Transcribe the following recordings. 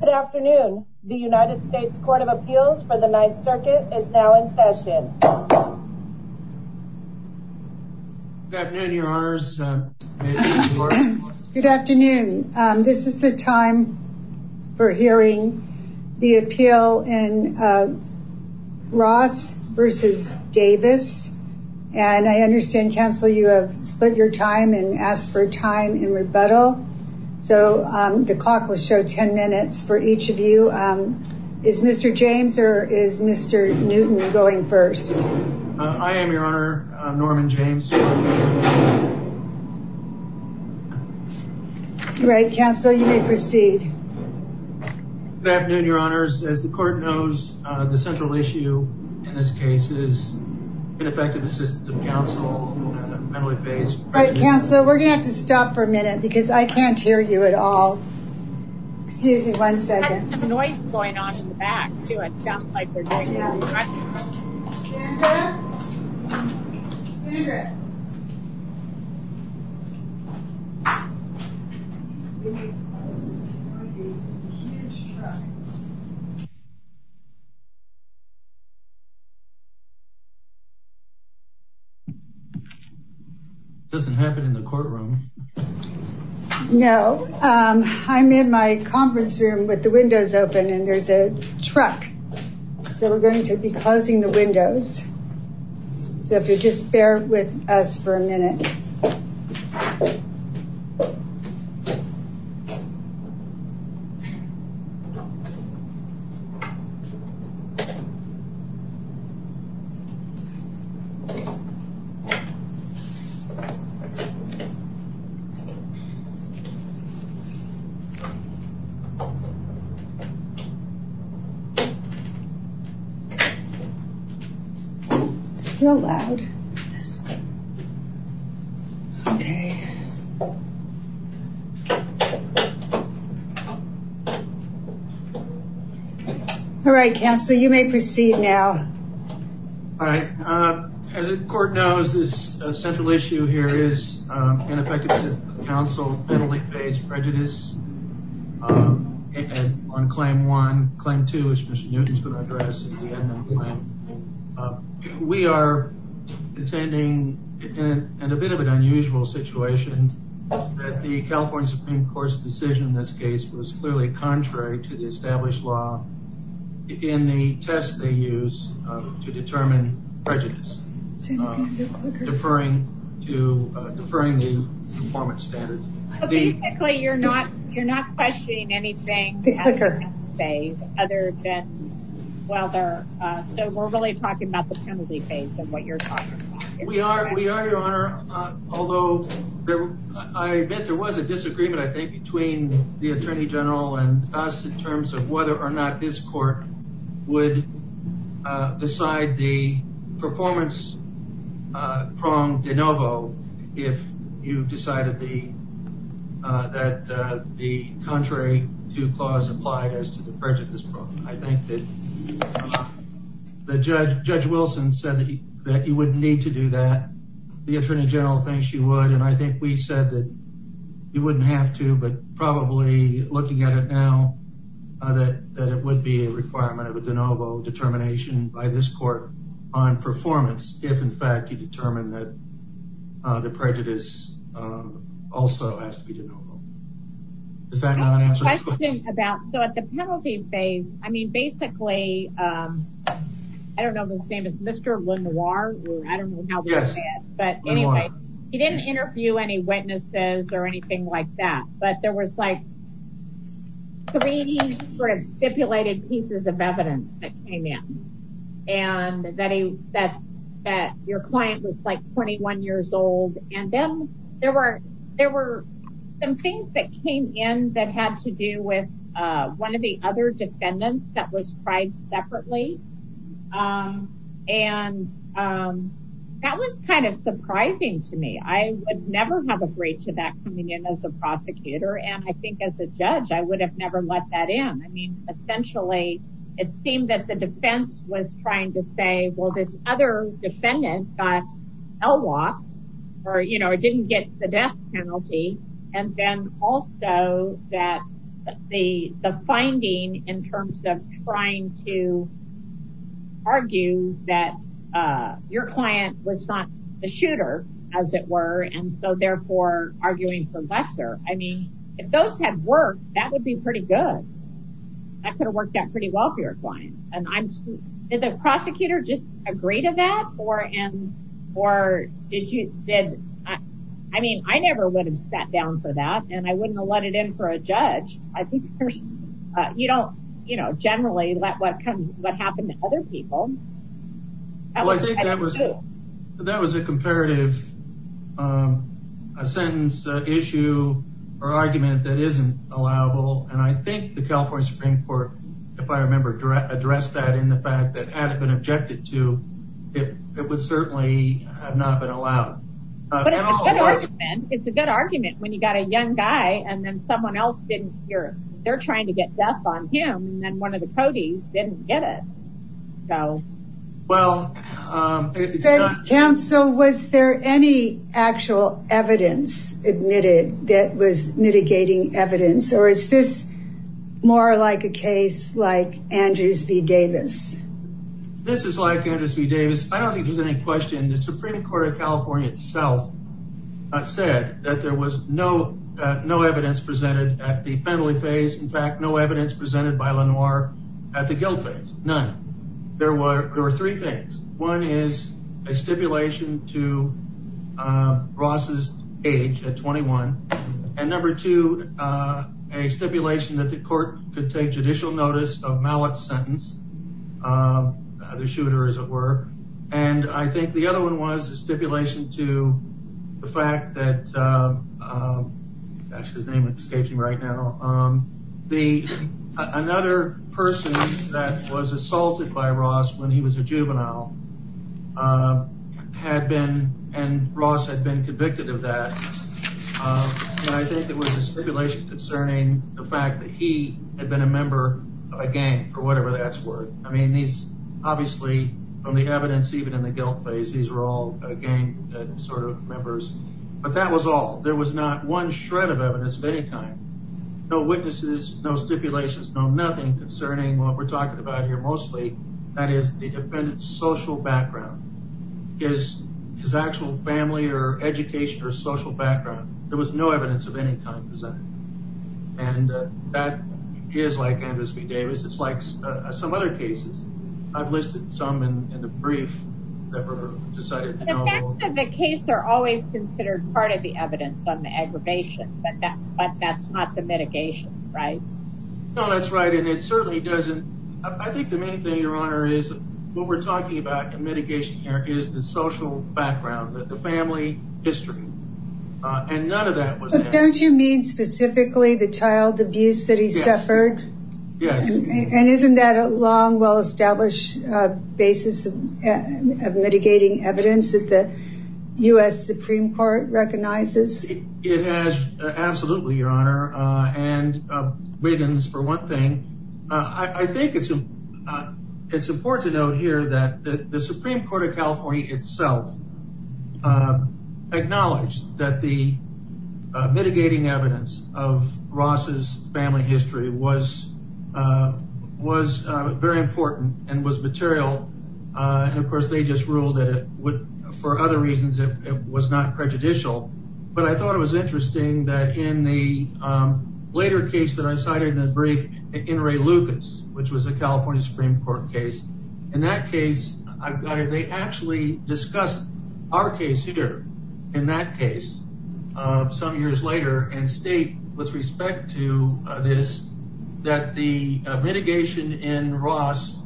Good afternoon. The United States Court of Appeals for the Ninth Circuit is now in session. Good afternoon. This is the time for hearing the appeal in Ross v. Davis. And I understand, counsel, you have split your time and asked for time in rebuttal. So the clock will show 10 minutes for each of you. Is Mr. James or is Mr. Newton going first? I am, Your Honor. Norman James. All right, counsel, you may proceed. Good afternoon, Your Honors. As the court knows, the central issue in this case is ineffective assistance of counsel. Counsel, we're going to have to stop for a minute because I can't hear you at all. Excuse me one second. There's a noise going on in the back, too. It sounds like there might be a disruption. It doesn't happen in the courtroom. No. I'm in my conference room with the windows open and there's a truck. So we're going to be closing the windows. So if you'll just bear with us for a minute. All right, counsel, you may proceed now. All right. As the court knows, the central issue here is ineffective assistance of counsel. So if you'll bear with us for a minute. Counsel, Bentley faced prejudice on claim one. Claim two, which Mr. Newton is going to address at the end of the claim. We are attending a bit of an unusual situation that the California Supreme Court's decision in this case was clearly contrary to the established law in the test they use to determine prejudice. Referring to the performance standard. You're not questioning anything at this phase, other than, well, we're really talking about the penalty phase and what you're talking about. We are, Your Honor, although I admit there was a disagreement, I think, between the Attorney General and us in terms of whether or not this court would decide the performance prong de novo if you decided that the contrary to the clause applied as to the prejudice prong. I think that Judge Wilson said that you wouldn't need to do that. The Attorney General thinks you would. And I think we said that you wouldn't have to, but probably looking at it now, that it would be a requirement of a de novo determination by this court on performance if, in fact, you determine that the prejudice also has to be de novo. Does that answer your question? So at the penalty phase, I mean, basically, I don't know if his name is Mr. Lenoir. I don't know how to say it. But anyway, he didn't interview any witnesses or anything like that. But there was, like, three sort of stipulated pieces of evidence that came in and that he said that your client was, like, 21 years old. And then there were some things that came in that had to do with one of the other defendants that was tried separately. And that was kind of surprising to me. I would never have agreed to that coming in as a prosecutor. And I think as a judge, I would have never let that in. I mean, essentially, it seemed that the defense was trying to say, well, this other defendant got LWOP or, you know, didn't get the death penalty. And then also that the finding in terms of trying to argue that your client was not the shooter, as it were, and so therefore arguing for lesser. I mean, if those had worked, that would be pretty good. That could have worked out pretty well for your client. And I'm – did the prosecutor just agree to that? Or did you – I mean, I never would have sat down for that. And I wouldn't have let it in for a judge. I think there's – you don't – you know, generally, what happens to other people. Well, I think that was – that was a comparative – a sentence, issue, or argument that isn't allowable. And I think the California Supreme Court, if I remember, addressed that in the fact that it has been objected to. It would certainly have not been allowed. But it's a good argument. It's a good argument when you've got a young guy, and then someone else didn't hear him. They're trying to get death on him, and then one of the codees didn't get it. Well – Well – So, Kemp, was there any actual evidence admitted that was mitigating evidence? Or is this more like a case like Andrews v. Davis? This is like Andrews v. Davis. I don't think there's any question. The Supreme Court of California itself said that there was no evidence presented at the federally phase. In fact, no evidence presented by Lenoir at the guilt phase. None. There were three things. One is a stipulation to Ross's age at 21. And number two, a stipulation that the court could take judicial notice of Mallett's sentence, the shooter, as it were. And I think the other one was a stipulation to the fact that – that's his name that's staging right now – another person that was assaulted by Ross when he was a juvenile had been – and Ross had been convicted of that. And I think it was a stipulation concerning the fact that he had been a member of a gang, or whatever that's word. I mean, obviously, from the evidence even in the guilt phase, these were all gang sort of members. But that was all. There was not one shred of evidence of any kind. No witnesses, no stipulations, no nothing concerning what we're talking about here mostly. That is, the defendant's social background. His actual family or education or social background. There was no evidence of any kind presented. And that is like any of those we gave. It's like some other cases. I've listed some in the brief that were decided to hold. The facts of the case are always considered part of the evidence on the aggravation. But that's not the mitigation, right? No, that's right. And it certainly doesn't – I think the main thing, Your Honor, is what we're talking about in mitigation here is the social background, the family history. And none of that was – But don't you mean specifically the child abuse that he suffered? Yes. And isn't that a long, well-established basis of mitigating evidence that the U.S. Supreme Court recognizes? It has absolutely, Your Honor. And Wiggins, for one thing. I think it's important to note here that the Supreme Court of California itself acknowledged that the mitigating evidence of Ross's family history was very important and was material. And, of course, they just ruled that it would, for other reasons, it was not prejudicial. But I thought it was interesting that in the later case that I cited in the brief, in Ray Lucas, which was a California Supreme Court case, in that case they actually discussed our case here in that case some years later and state with respect to this that the mitigation in Ross,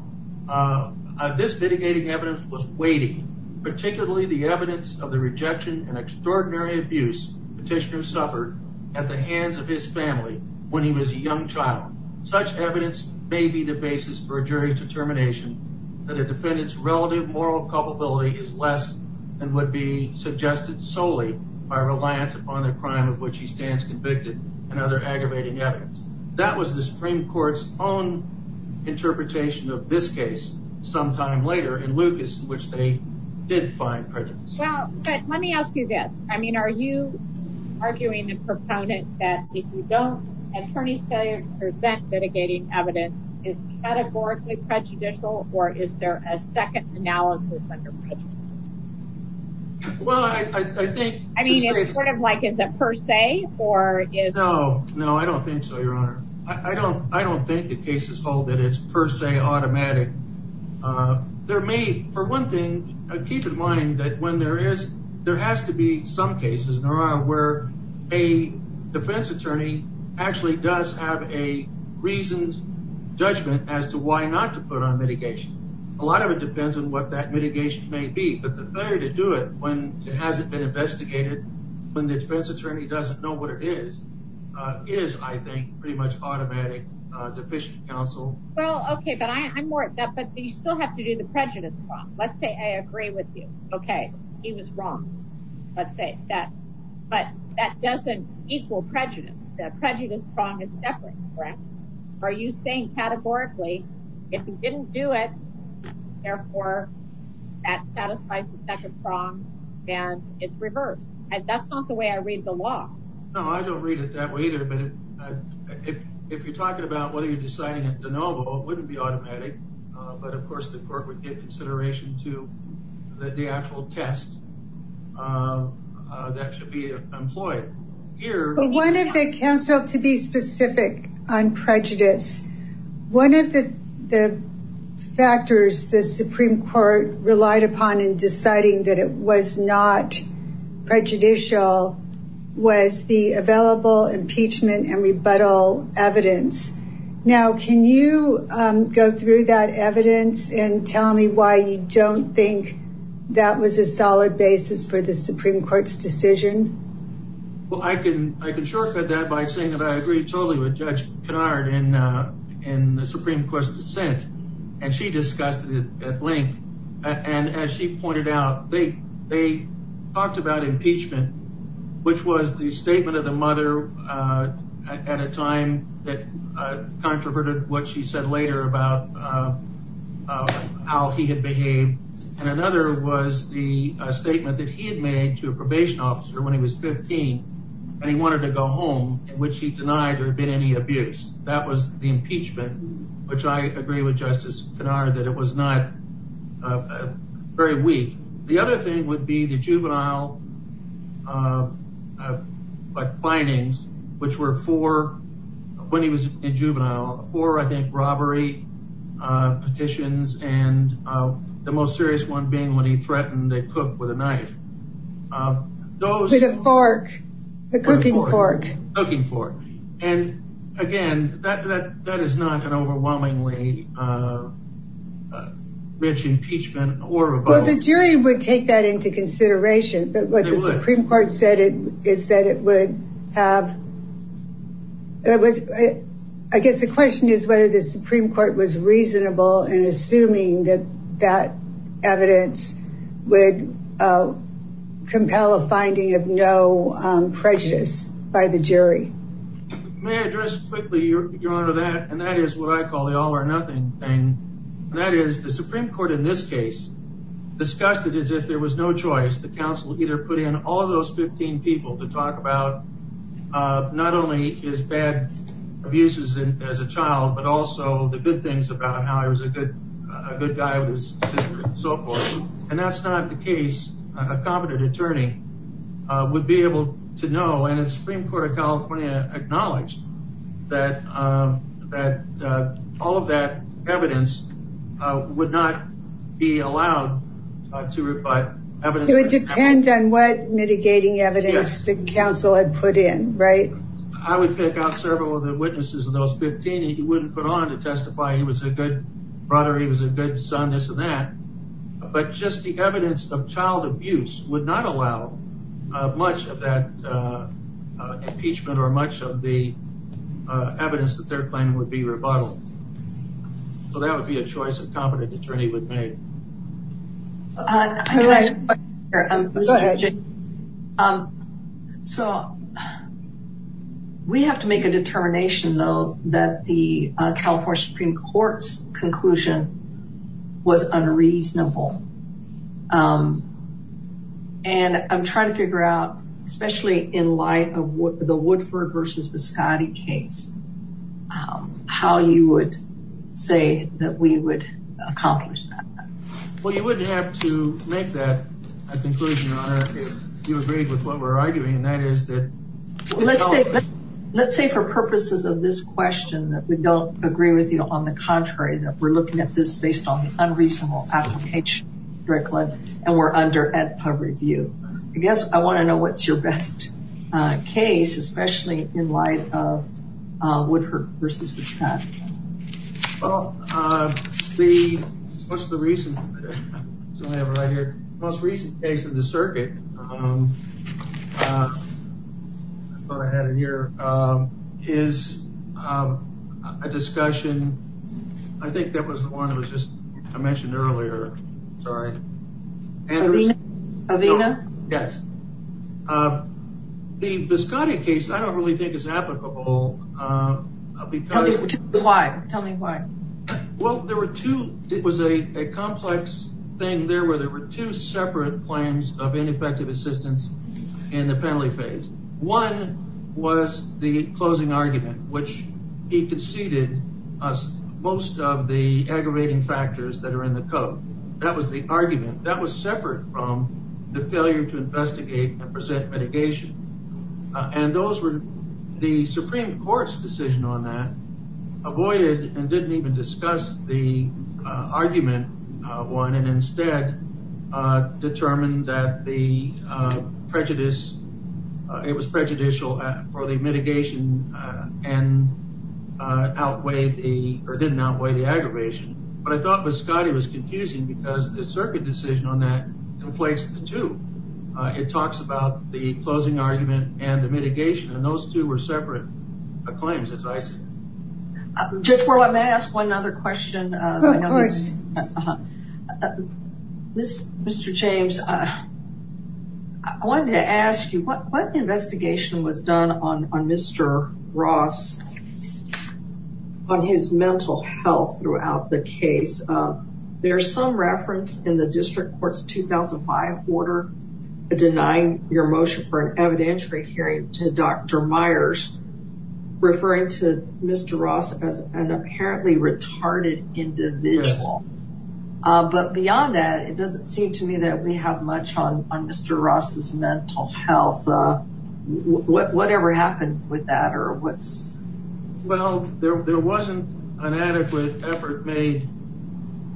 this mitigating evidence was weighty, particularly the evidence of the rejection and extraordinary abuse Petitioner suffered at the hands of his family when he was a young child. Such evidence may be the basis for a jury's determination that a defendant's relative moral culpability is less than would be suggested solely by reliance upon the crime of which he stands convicted and other aggravating evidence. That was the Supreme Court's own interpretation of this case some time later in Lucas, in which they did find prejudice. Well, let me ask you this. I mean, are you arguing the proponent that if you don't, attorneys present mitigating evidence, is that affordably prejudicial or is there a second analysis of the prejudice? Well, I think. I mean, it's sort of like is it per se or is. No, no, I don't think so, Your Honor. I don't think the cases hold that it's per se automatic. There may, for one thing, keep in mind that when there is, there has to be some cases, Your Honor, where a defense attorney actually does have a reason, judgment as to why not to put on mitigation. A lot of it depends on what that mitigation may be, but the failure to do it when it hasn't been investigated, when the defense attorney doesn't know what it is, is, I think, pretty much automatic deficient counsel. Well, okay, but I'm more. But you still have to do the prejudice. Let's say I agree with you. Okay. He was wrong. Let's say that. But that doesn't equal prejudice. The prejudice prong is separate. Right. Are you saying categorically, if you didn't do it, therefore that satisfies the second prong and it's reversed. That's not the way I read the law. No, I don't read it that way either. But if you're talking about whether you're deciding it's a no vote, it wouldn't be automatic. But, of course, the court would take consideration to the actual test. That should be employed here. One of the counsel to be specific on prejudice, one of the factors the Supreme Court relied upon in deciding that it was not prejudicial was the available impeachment and rebuttal evidence. Now, can you go through that evidence and tell me why you don't think that was a solid basis for the Supreme Court's decision? Well, I can shortcut that by saying that I agree totally with Judge Kennard in the Supreme Court's dissent. And she discussed it at length. And as she pointed out, they talked about impeachment, which was the statement of the mother at a time that controverted what she said later about how he had behaved. And another was the statement that he had made to a probation officer when he was 15 and he wanted to go home, in which he denied there had been any abuse. That was the impeachment, which I agree with Justice Kennard that it was not very weak. The other thing would be the juvenile findings, which were for when he was a juvenile for, I think, robbery petitions and the most serious one being when he threatened to cook with a knife. The cooking fork. And again, that, that, that is not an overwhelmingly rich impeachment or the jury would take that into consideration. But what the Supreme Court said is that it would have, I guess the question is whether the Supreme Court was reasonable and assuming that that evidence would compel a finding of no prejudice by the jury. May I address quickly, Your Honor, that, and that is what I call the all or nothing thing. And that is the Supreme Court in this case discussed it as if there was no choice. The council either put in all of those 15 people to talk about not only his bad abuses as a child, but also the good things about how I was a good, a good guy. So, and that's not the case. A competent attorney would be able to know, and the Supreme Court of California acknowledged that, that all of that evidence would not be allowed to reply. It depends on what mitigating evidence the council had put in. Right. I would pick out several of the witnesses of those 15. He wouldn't put on to testify. He was a good brother. He was a good son. This and that, but just the evidence of child abuse would not allow much of that impeachment or much of the evidence that they're planning would be rebuttal. So that would be a choice of competent attorney would pay. So. We have to make a determination though, that the California Supreme court's conclusion was unreasonable. Um, and I'm trying to figure out, especially in light of what the Woodford versus the Scotty case, um, how you would say that we would accomplish that. Well, you wouldn't have to make that a conclusion. You agree with what we're arguing. Let's say for purposes of this question, that we don't agree with you on the contrary, that we're looking at this based on the unreasonable application. And we're under at public view, I guess. I want to know what's your best case, especially in light of Woodford versus the Scott. Oh, uh, the, what's the reason. Most recent case of the circuit. I thought I had it here, um, is, um, a discussion. I think that was the one that was just, I mentioned earlier. Sorry. Yes. Um, the Scotty case, I don't really think is applicable. Um, because why tell me why? Well, there were two, it was a complex thing. There were, there were two separate claims of ineffective assistance in the family phase. One was the closing argument, which he proceeded most of the aggravating factors that are in the code. That was the argument that was separate from the failure to investigate and present mitigation. And those were the Supreme court's decision on that avoided and didn't even discuss the argument of one. And instead, uh, determined that the, uh, prejudice, uh, it was prejudicial or the mitigation, uh, and, uh, outweighed the, or did not weigh the aggravation. But I thought the Scotty was confusing because the circuit decision on that complex to, uh, it talks about the closing argument and the mitigation and those two were separate. Uh, claims. Just for what may ask one other question. Uh, this Mr. James, uh, I wanted to ask you what, what investigation was done on, on Mr. Ross on his mental health throughout the case. Uh, there's some reference in the district court's 2005 order, denying your motion for an evidentiary hearing to Dr. Myers referring to Mr. Ross as an apparently retarded individual. Uh, but beyond that, it doesn't seem to me that we have much on, on Mr. Ross's mental health, uh, what, whatever happened with that or what. Well, there, there wasn't an adequate effort made,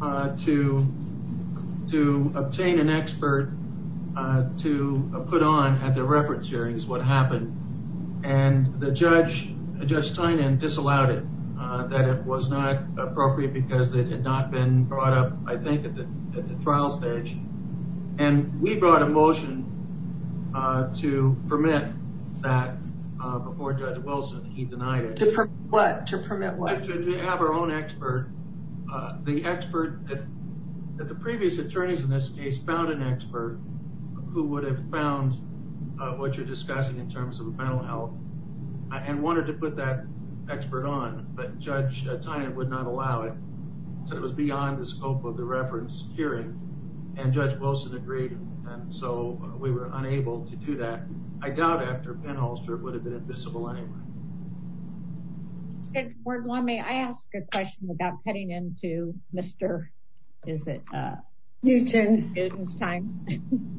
uh, to, to obtain an expert, uh, to put on at the reference areas what happened and the judge, Judge Stein and disallowed it, uh, that it was not appropriate because they had not been brought up, I think, at the, at the trial stage. And we brought a motion, uh, to permit that, uh, before judge Wilson, he denied it. To permit what? To have our own expert, uh, the expert that, that the previous attorneys in this case found an expert who would have found, uh, what you're discussing in terms of mental health. Uh, and wanted to put that expert on, but judge at time, it would not allow it. So it was beyond the scope of the reference hearing and judge Wilson agreed. And so we were unable to do that. I doubt after penholster would have been invisible. It's where one may, I asked a question about heading into Mr. Is it, uh, Newton is time.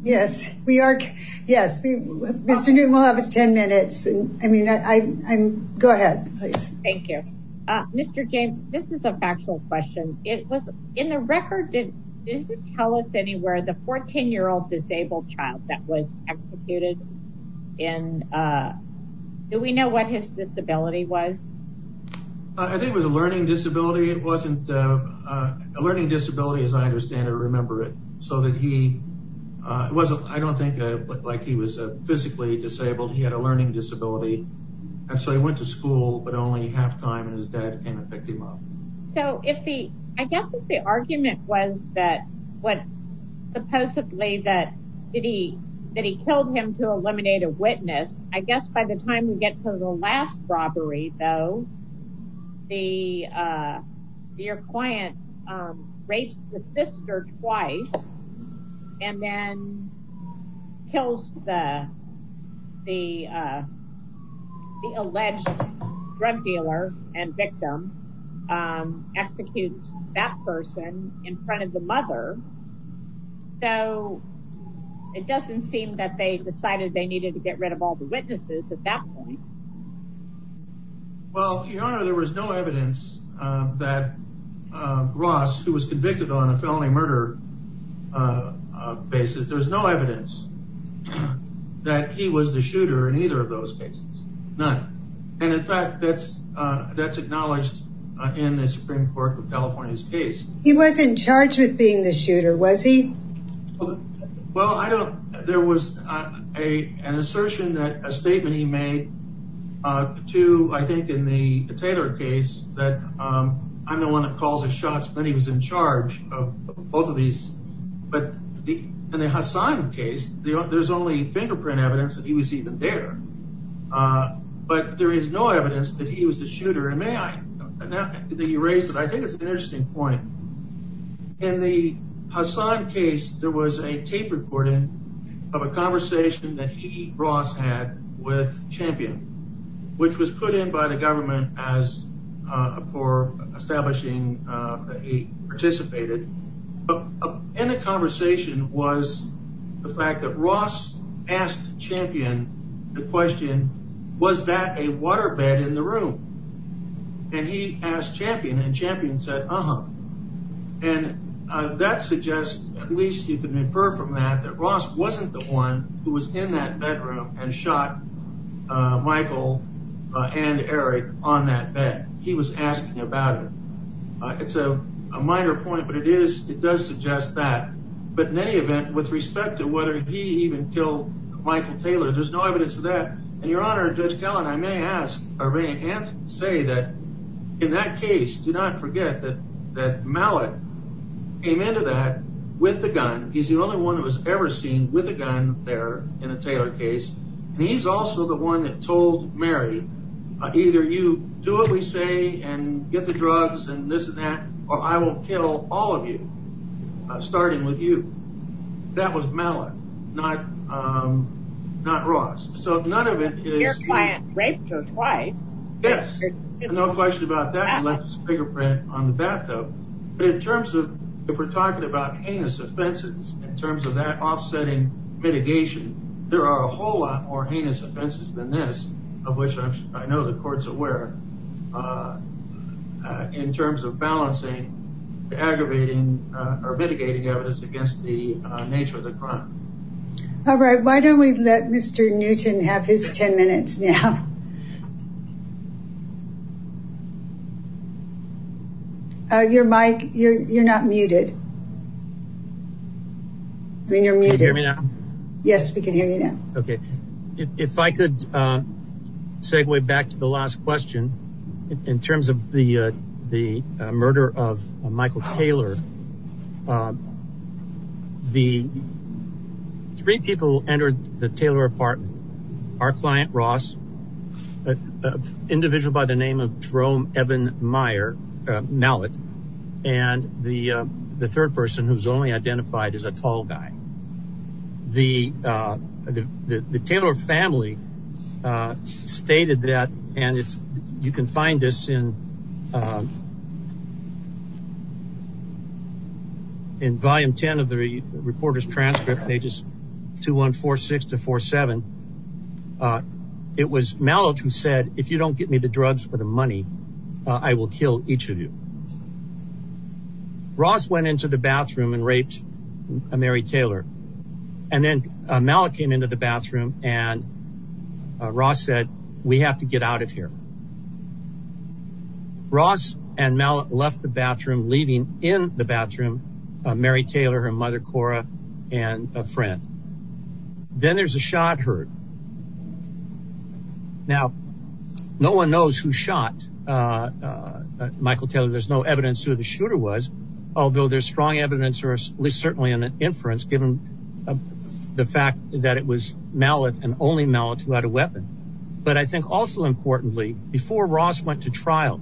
Yes, we are. Yes. We'll have a 10 minutes. I mean, I I'm go ahead, please. Thank you. Mr. James, this is a factual question. It was in the record. Didn't tell us anywhere. The 14 year old disabled child that was executed. And, uh, do we know what his disability was? I think it was a learning disability. It wasn't a learning disability, as I understand it, remember it. So that he, uh, it wasn't, I don't think it looked like he was physically disabled. He had a learning disability and so he went to school, but only halftime and his dad came and picked him up. So if the, I guess if the argument was that what supposedly that did he, that he killed him to eliminate a witness, I guess by the time we get to the last robbery, though, the, uh, your client, um, raped the sister twice. And then kills the, the, uh, the alleged drug dealer and victim, um, execute that person in front of the mother. So it doesn't seem that they decided they needed to get rid of all the witnesses at that point. Well, there was no evidence that, uh, Ross, who was convicted on a felony murder, uh, uh, basis. There was no evidence that he was the shooter in either of those cases. None. And in fact, that's, uh, that's acknowledged in the Supreme court of California's case. He wasn't charged with being the shooter, was he? Well, I don't, there was a, an assertion that a statement he made, uh, to, I think in the Taylor case that, um, I'm the one that calls the shots when he was in charge of both of these, but in the Hassan case, there's only fingerprint evidence that he was even there. Uh, but there is no evidence that he was the shooter. And may I, the reason I think it's an interesting point in the Hassan case, there was a tape recording of a conversation that he, Ross had with champion, which was put in by the government as, uh, for establishing, uh, that he participated. But in the conversation was the fact that Ross asked champion, the question, was that a waterbed in the room? And he asked champion and champion said, uh-huh. And that suggests at least you can infer from that that Ross wasn't the one who was in that bedroom and shot, uh, Michael and Eric on that bed. He was asking about it. Uh, it's a, a minor point, but it is, it does suggest that, but in any event with respect to whether he even killed Michael Taylor, there's no evidence of that. And your honor, just telling, I may ask, say that in that case, do not forget that, that mallet came into that with the gun. He's the only one that was ever seen with a gun there in a Taylor case. And he's also the one that told Mary, uh, either you do what we say and get the drugs and this and that, or I will kill all of you. Uh, starting with you, that was mallet, not, um, not Ross. So none of it is. Your client raped her twice. Yes. No question about that. He left his fingerprint on the bathtub. But in terms of, if we're talking about heinous offenses, in terms of that offsetting mitigation, there are a whole lot more heinous offenses than this of which I know the court's aware, uh, uh, in terms of balancing the aggravating, uh, or mitigating evidence against the nature of the crime. All right. Why don't we let Mr. Newton have his 10 minutes now? Uh, your mic, you're, you're not muted. Yes, we can hear you now. Okay. If I could, uh, segue back to the last question in terms of the, uh, the murder of Michael Taylor, uh, the three people entered the Taylor apartment, our client Ross, uh, individual by the name of Jerome, Evan Meyer, uh, mallet and the, uh, the third person who's only identified as a tall guy, the, uh, the, the Taylor family, uh, stated that, and if you can find this in, um, in volume 10 of the reporter's transcript pages two, one, four, six to four, seven. Uh, it was Malik who said, if you don't get me the drugs for the money, I will kill each of you. Ross went into the bathroom and raped a Mary Taylor. And then, uh, Malik came into the bathroom and, uh, Ross said, we have to get out of here. Ross and Malik left the bathroom, leaving in the bathroom, uh, Mary Taylor, her mother, Cora, and a friend. Then there's a shot hurt. Now no one knows who shot, uh, uh, uh, Michael Taylor. There's no evidence who the shooter was, although there's strong evidence or at least certainly in the inference, given the fact that it was Malik and only Malik who had a weapon. But I think also importantly, before Ross went to trial,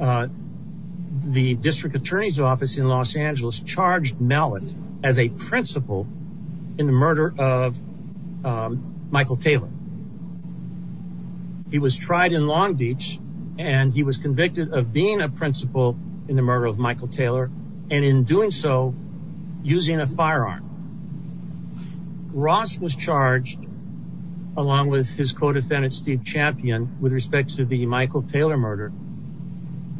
uh, the district attorney's office in Los Angeles charged Malik as a principal in the murder of, um, Michael Taylor. He was tried in Long Beach and he was convicted of being a principal in the murder of Michael Taylor. And in doing so using a firearm, Ross was charged along with his co-defendant, Steve champion with respects to the Michael Taylor murder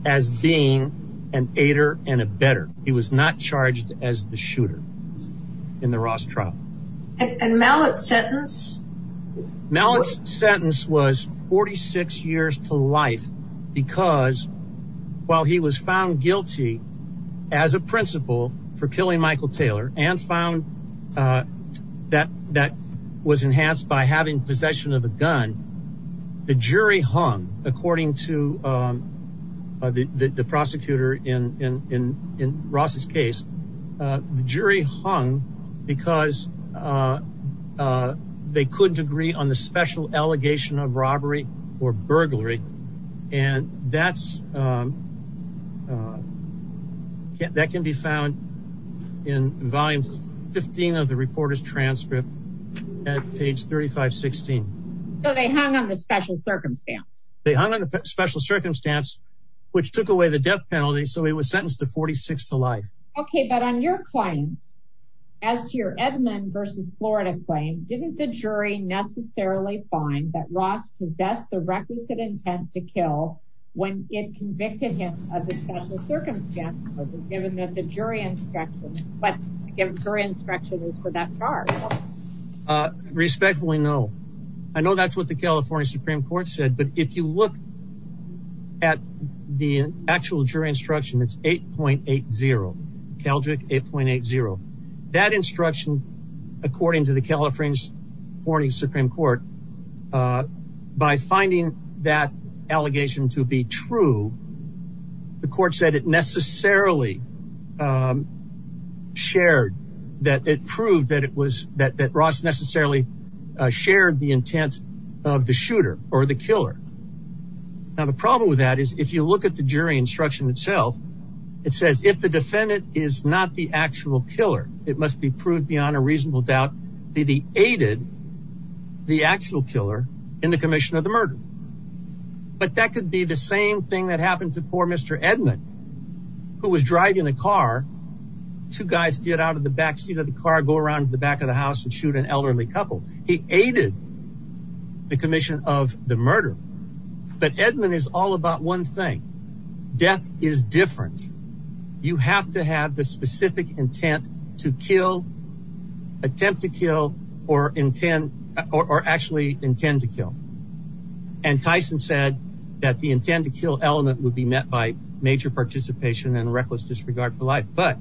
as being an ater and a better, he was not charged as the shooter in the Ross trial. And Malik sentence sentence was 46 years to life because while he was found guilty as a principal for killing Michael Taylor and found, uh, that that was enhanced by having possession of a gun, the jury hung according to, um, uh, the, the prosecutor in, in, in, in Ross's case, uh, the jury hung because, uh, uh, they couldn't agree on the special allegation of robbery or burglary. And that's, um, uh, that can be found in volume 15 of the reporter's transcript at page 3516. So they hung on the special circumstance. They hung on a special circumstance, which took away the death penalty. So he was sentenced to 46 to life. Okay. But on your point, as to your Edmond versus Florida claim, didn't the jury necessarily find that Ross possess the requisite intent to kill when it convicted him of a special circumstance, given that the jury instruction, but again, her instruction is for that part. Respectfully. No, I know that's what the California Supreme court said, but if you look at the actual jury instruction, it's 8.8 0 Keljic 8.8 0 that instruction, according to the California's 40 Supreme court, uh, by finding that allegation to be true, the court said it necessarily, um, shared that it proved that it was that, that Ross necessarily shared the intent of the shooter or the killer. And the problem with that is if you look at the jury instruction itself, it says if the defendant is not the actual killer, it must be proved beyond a reasonable doubt, the, the aided the actual killer in the commission of the murder. But that could be the same thing that happened to poor Mr. Edmond, who was driving the car. Two guys get out of the backseat of the car, go around to the back of the house and shoot an elderly couple. He aided the commission of the murder. But Edmond is all about one thing. Death is different. You have to have the specific intent to kill, attempt to kill or intend or actually intend to kill. And Tyson said that the intent to kill element would be met by major participation and reckless disregard for life. But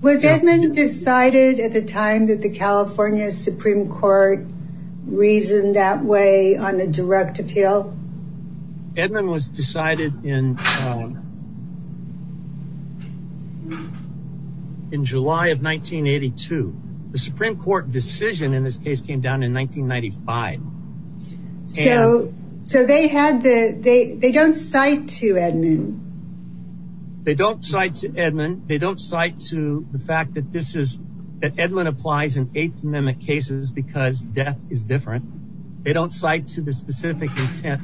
was Edmond decided at the time that the California Supreme court reasoned that way on the direct appeal? Edmond was decided in, um, in July of 1982, the Supreme court decision in this case came down in 1995. So, so they had the, they, they don't cite to Edmond. They don't cite to Edmond. They don't cite to the fact that this is that Edmond applies in eighth is different. They don't cite to the specific intent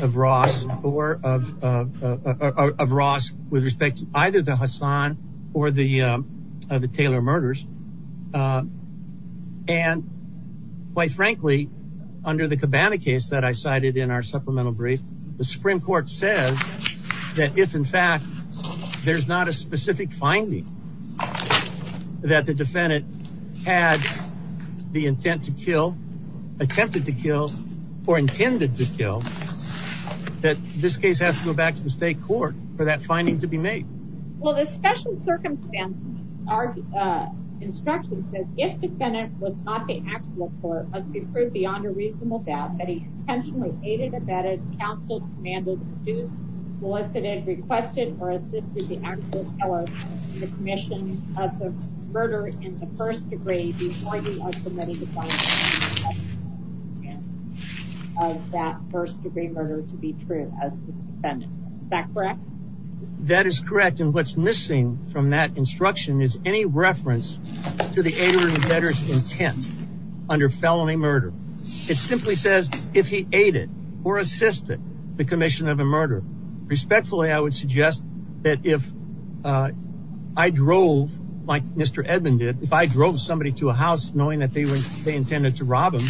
of Ross or of, of Ross with respect to either the Hassan or the, um, the Taylor murders. Uh, and quite frankly, under the cabana case that I cited in our supplemental brief, the Supreme court says that if in fact there's not a specific finding that the defendant had the intent to kill, attempted to kill or intended to kill that this case has to go back to the state court for that finding to be made. Well, the special circumstances are, uh, instructions that if defendant was not the actual court, let's be proved beyond a reasonable doubt that he intentionally aided, abetted counseled, commanded, sued, solicited, requested, or assisted the actions of the commission of the murder in the first degree, that first degree murder to be true. Is that correct? That is correct. And what's missing from that instruction is any reference to the aiders and debtors intent under felony murder. It simply says if he aided or assisted the commission of a murder, respectfully, I would suggest that if, uh, I drove like Mr. Edmund did, if I drove somebody to a house knowing that they were, they intended to rob him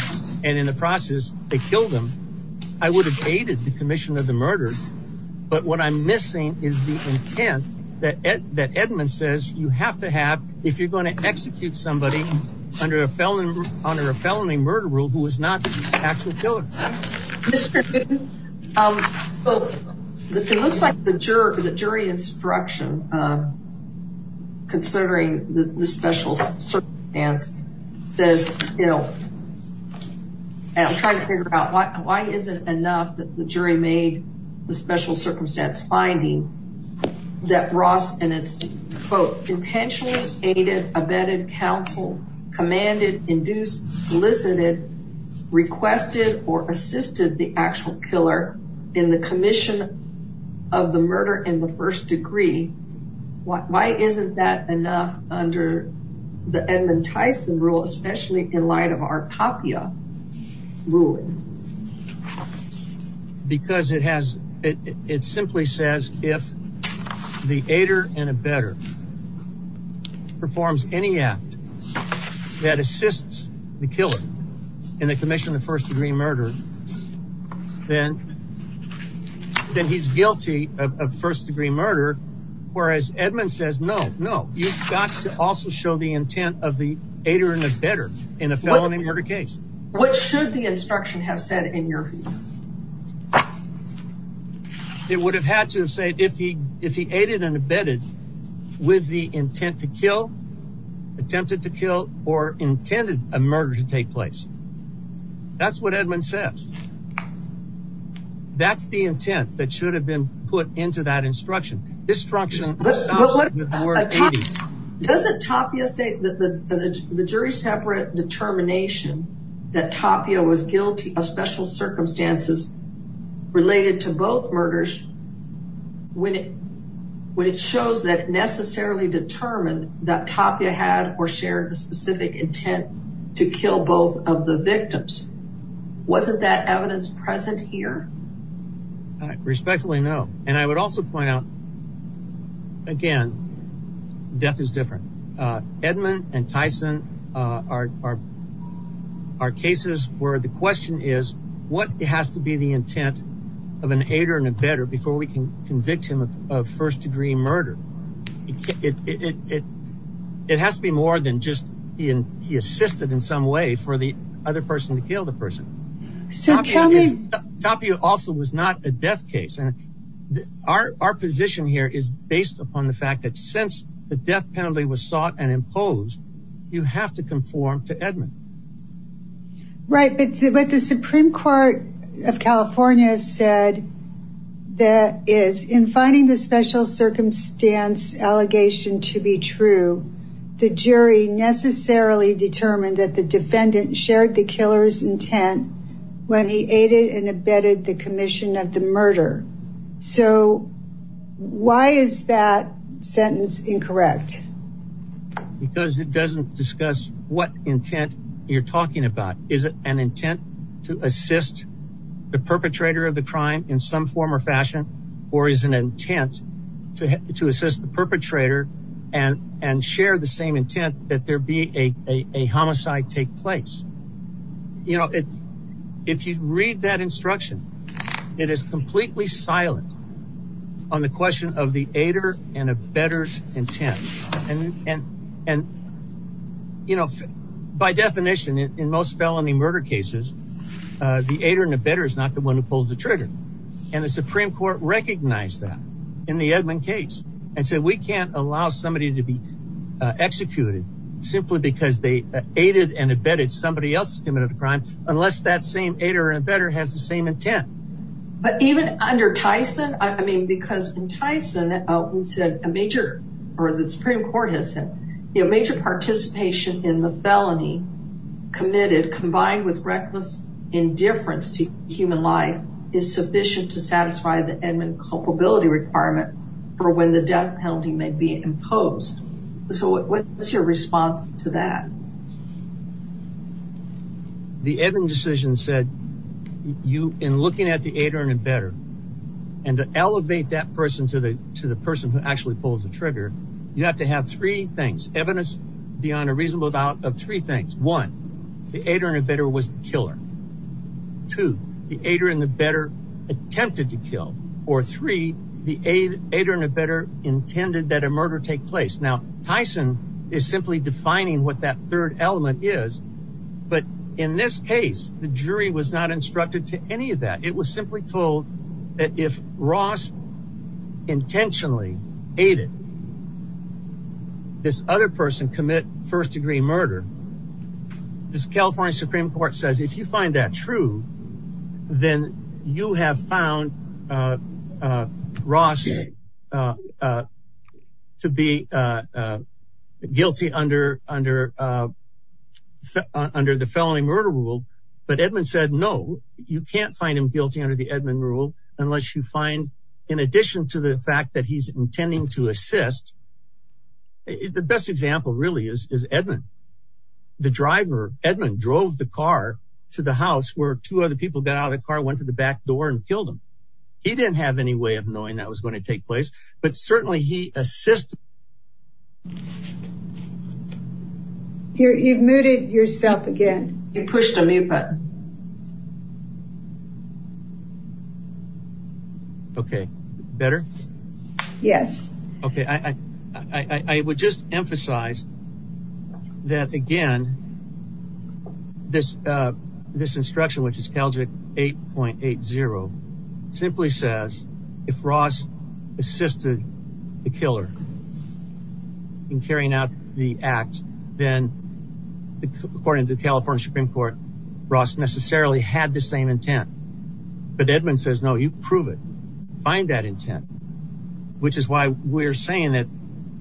and in the process they killed him, I would have aided the commission of the murder. But what I'm missing is the intent that Ed, that Edmund says you have to have, if you're going to execute somebody under a felony under a felony murder rule, who is not the actual killer. Mr. It looks like the juror to the jury instruction, um, considering the special says, you know, and I'm trying to figure out why, why isn't enough that the jury made the special circumstance finding that Ross and his quote, intentionally aided, abetted, counseled, commanded, induced, solicited, requested, or assisted the actual killer in the commission of the murder. And the first degree, what, why isn't that enough under the Edmund Tyson rule, especially in light of our Papua. Because it has, it simply says if the aider and a better performs any act that assists the killer in the commission, the first degree murder, then, then he's guilty of first degree murder. Whereas Edmund says, no, no, you've got to also show the intent of the aider and a better in a felony murder case. What should the instruction have said in your, it would have had to say if he, if he aided and abetted with the intent to kill, attempted to kill or intended a murder to take place. That's what Edmund says. That's the intent that should have been put into that instruction. Instruction. Does it talk to you? The jury separate determination that Tapia was guilty of special circumstances related to both murders. When it, when it shows that necessarily determined that Tapia had or shared a specific intent to kill both of the victims. Wasn't that evidence present here? I respectfully know. And I would also point out again, death is different. Edmund and Tyson are, are, are cases where the question is what it has to be the intent of an aider and a better before we can convict him of first degree murder. It, it has to be more than just being, he assisted in some way for the other person to kill the person. Tapia also was not a death case. And our, our position here is based upon the fact that since the death penalty was sought and imposed, you have to conform to Edmund. Right. But what the Supreme court of California said, that is in finding the special circumstance allegation to be true, the jury necessarily determined that the defendant shared the killer's intent when he aided and abetted the commission of the murder. So why is that sentence incorrect? Because it doesn't discuss what intent you're talking about. Is it an intent to assist the perpetrator of the crime in some form or fashion, or is an intent to, to assist the perpetrator and, and share the same intent that there be a, a, a homicide take place. You know, it, if you read that instruction, it is completely silent on the question of the aider and a better intent. And, and, and, you know, by definition, in most felony murder cases the aider and the better is not the one who pulls the trigger and the Supreme court recognized that in the Edmund case and said, we can't allow somebody to be executed simply because they aided and abetted somebody else, committed a crime unless that same aider and better has the same intent. But even under Tyson, I mean, because in Tyson, we said a major or the Supreme court has said, you know, major participation in the felony committed combined with reckless indifference to human life is sufficient to satisfy the Edmund culpability requirement for when the death penalty may be imposed. So what's your response to that? The Edmund decision said you in looking at the aider and the better, and to elevate that person to the, to the person who actually pulls the trigger, you have to have three things evidence beyond a reasonable doubt of three things. One, the aider and abetter was the killer. Two, the aider and the better attempted to kill or three, the aider and abetter intended that a murder take place. Now Tyson is simply defining what that third element is. But in this case, the jury was not instructed to any of that. It was simply told that if Ross intentionally aided this other person commit first degree murder, this California Supreme court says, if you find that true, then you have found Ross to be guilty under, under the felony murder rule. But Edmund said, no, you can't find him guilty under the Edmund rule, unless you find in addition to the fact that he's intending to assist, the best example really is, is Edmund. The driver, Edmund drove the car to the house where two other people got out of the car, went to the back door and killed him. He didn't have any way of knowing that was going to take place, but certainly he assisted. You've muted yourself again. It pushed a mute button. Okay. Better. Yes. Okay. I, I, I, I would just emphasize that again, this, uh, this instruction, which is Calgary 8.8 zero simply says if Ross assisted the killer in carrying out the act, then according to the California Supreme court, Ross necessarily had the same intent, but Edmund says, no, you prove it, find that intent, which is why we're saying that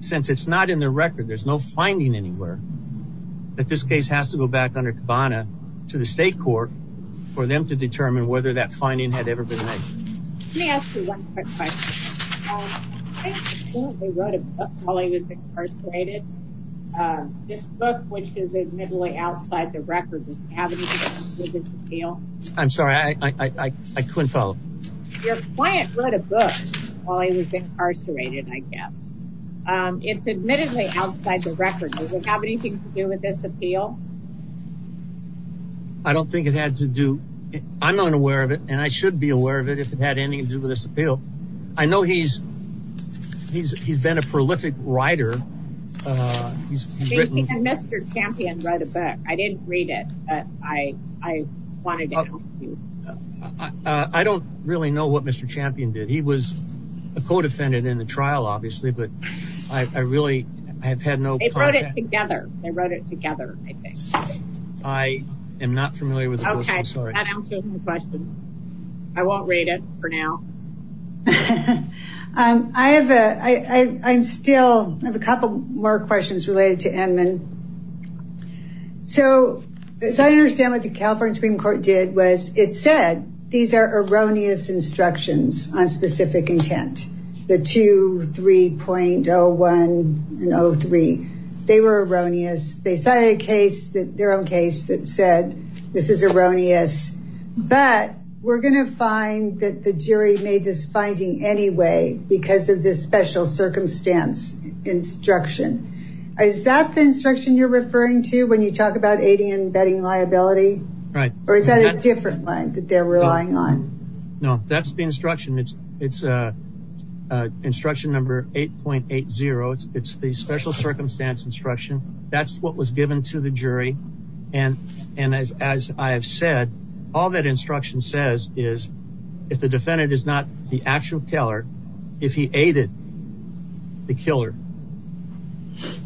since it's not in the record, there's no finding anywhere, but this case has to go back under Kavanaugh to the state court for them to determine whether that finding had ever been made. Let me ask you one quick question. This book, which is admittedly outside the record. I'm sorry. I couldn't tell. It's admittedly outside the record. I don't think it had to do. I'm unaware of it. And I should be aware of it if it had anything to do with this appeal. I know he's, he's, he's been a prolific writer. He's written a book. I didn't read it. I, I wanted to, I don't really know what Mr. Champion did. He was a co-defendant in the trial, obviously, but I really, I've had no together. I wrote it together. I am not familiar with the question. I won't read it for now. I have a, I I'm still, I have a couple more questions related to admin. So as I understand what the California Supreme court did was it said, these are erroneous instructions on specific intent, the two, 3.01 and Oh three, they were erroneous. They cited a case that their own case that said this is erroneous, but we're going to find that the jury made this finding anyway, because of this special circumstance instruction. Is that the instruction you're referring to when you talk about aiding and abetting liability? Right. Or is that a different line that they're relying on? No, that's the instruction. It's, it's a instruction number 8.80. It's the special circumstance instruction. That's what was given to the jury. And, and as, as I've said, all that instruction says is if the defendant is not the actual teller, if he aided the killer,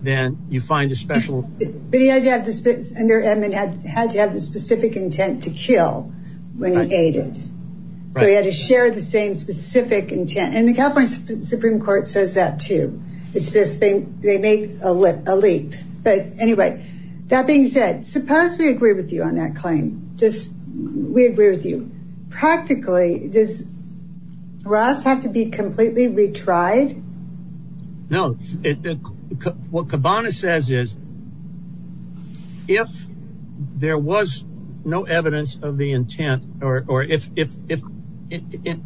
then you find a special, but he had to have this and their admin has had to have a specific intent to kill. We're not aided, but we had to share the same specific intent and the conference Supreme court says that too. It's this thing. They make a lip elite, but anyway, that being said, suppose we agree with you on that claim. We agree with you practically. Does Ross have to be completely retried? No. What Kibana says is if there was no evidence of the intent or, or if, if, if, in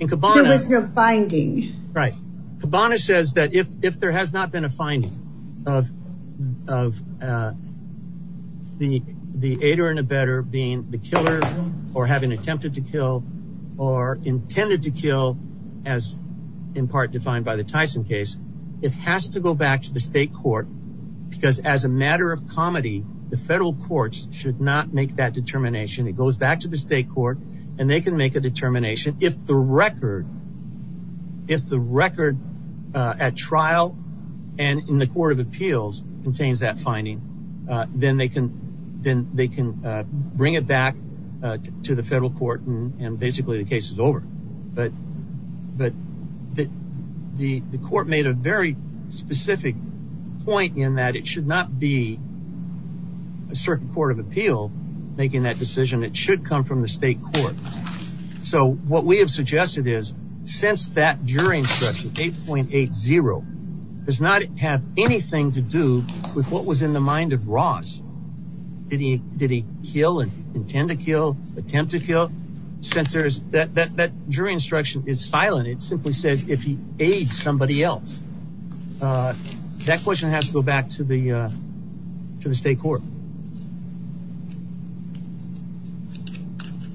Kibana's findings, right. Kibana says that if, if there has not been a finding of, of the, the aider and a better being the killer or having attempted to kill or intended to kill as in part defined by the Tyson case, it has to go back to the state court because as a matter of comedy, the federal courts should not make that determination. It goes back to the state court and they can make a determination. If the record, if the record at trial and in the court of appeals contains that finding, then they can, then they can bring it back to the federal court and basically the case is over. But, but the, the court made a very specific point in that it should not be a certain court of appeal making that decision. It should come from the state court. So what we have suggested is since that jury instruction 8.8 zero does not have anything to do with what was in the mind of Ross, did he, did he kill and intend to kill, attempt to kill sensors that, that jury instruction is silent. It simply said, if he aids somebody else, that question has to go back to the, to the state court.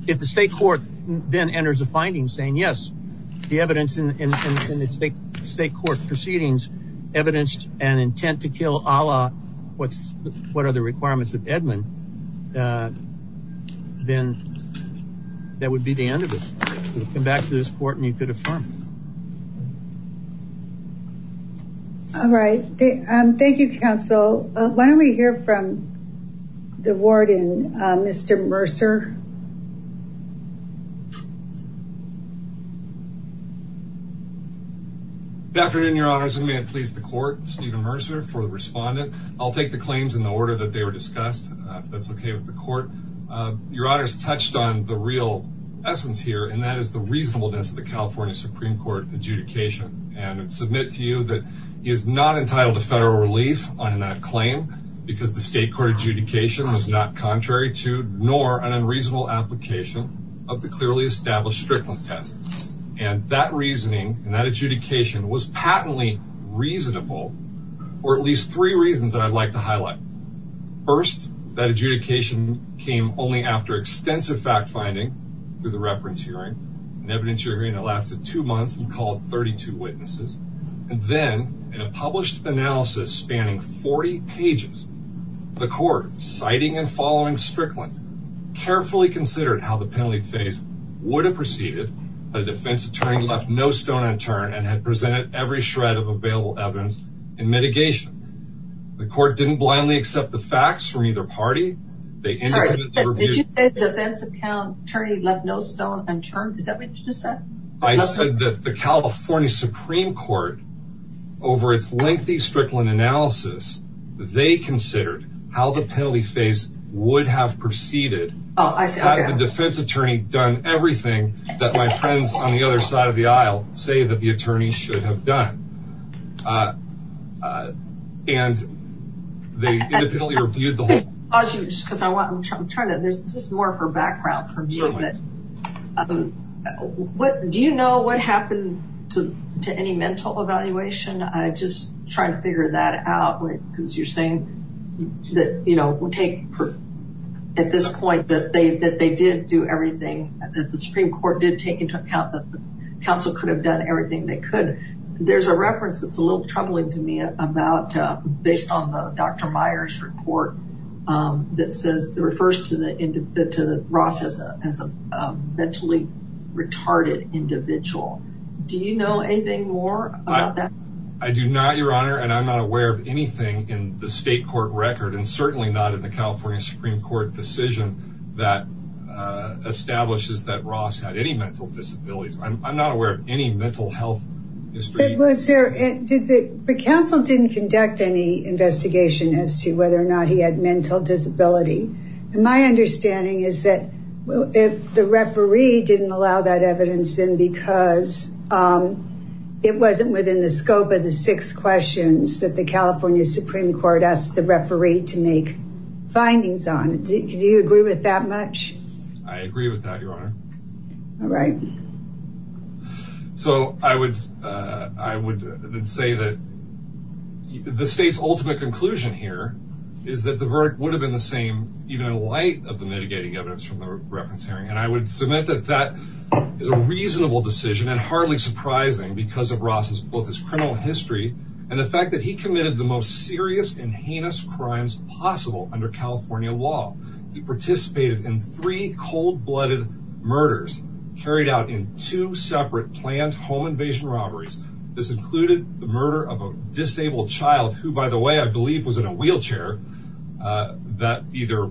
If the state court then enters a finding saying, yes, the evidence in the state court proceedings evidenced an intent to kill Allah. What's what are the requirements of Edmond? Then that would be the end of this. We'll come back to this court and you could have fun. All right. Thank you, counsel. Why don't we hear from the warden, Mr. Mercer. Definitely in your honors. I'm going to please the court, Stephen Mercer for the respondent. I'll take the claims in the order that they were discussed. That's okay with the court. Your honors touched on the real essence here, and that is the reasonableness of the California Supreme court adjudication and submit to you that he is not entitled to federal relief on that claim because the state court adjudication was not contrary to, nor an unreasonable application of the clearly established strictness and that reasoning and that adjudication was patently reasonable, or at least three reasons that I'd like to highlight. First, that adjudication came only after extensive fact finding through the reference hearing and evidence hearing and it lasted two months and called 32 witnesses. And then in a published analysis spanning 40 pages, the court citing and following Strickland carefully considered how the penalty phase would have proceeded. The defense attorney left no stone unturned and had presented every shred of available evidence and mitigation. The court didn't blindly accept the facts from either party. Did you say the defense attorney left no stone unturned? Did that make sense? I said that the California Supreme court over its lengthy Strickland analysis, they considered how the penalty phase would have proceeded. Had the defense attorney done everything that my friends on the other side of the aisle say that the attorney should have done. Do you know what happened to, to any mental evaluation? I just try to figure that out. Cause you're saying that, you know, we'll take at this point that they, that they didn't do everything. The Supreme court did take into account that the council could have done but there's a reference to the Supreme court that the Supreme court reference. It's a little troubling to me. I'm not, uh, based on the Dr. Myers report, um, that says the refers to the, to the process as a mentally retarded individual. Do you know anything more about that? I do not your honor. And I'm not aware of anything in the state court record and certainly not in the California Supreme court decision that, uh, establishes that Ross had any mental disabilities. I'm not aware of any mental health. The council didn't conduct any investigation as to whether or not he had mental disability. And my understanding is that if the referee didn't allow that evidence, then because, um, it wasn't within the scope of the six questions that the California Supreme court asked the referee to make findings on. Do you agree with that much? I agree with that. All right. So I would, uh, I would say that. The state's ultimate conclusion here is that the verdict would have been the same, even in light of the mitigating evidence from the reference hearing. And I would submit that that is a reasonable decision and hardly surprising because of Ross's book is criminal history. And the fact that he committed the most serious and heinous crimes possible under California law, he participated in three cold blooded murders carried out in two separate plans, home invasion robberies. This included the murder of a disabled child who, by the way, I believe was in a wheelchair, uh, that either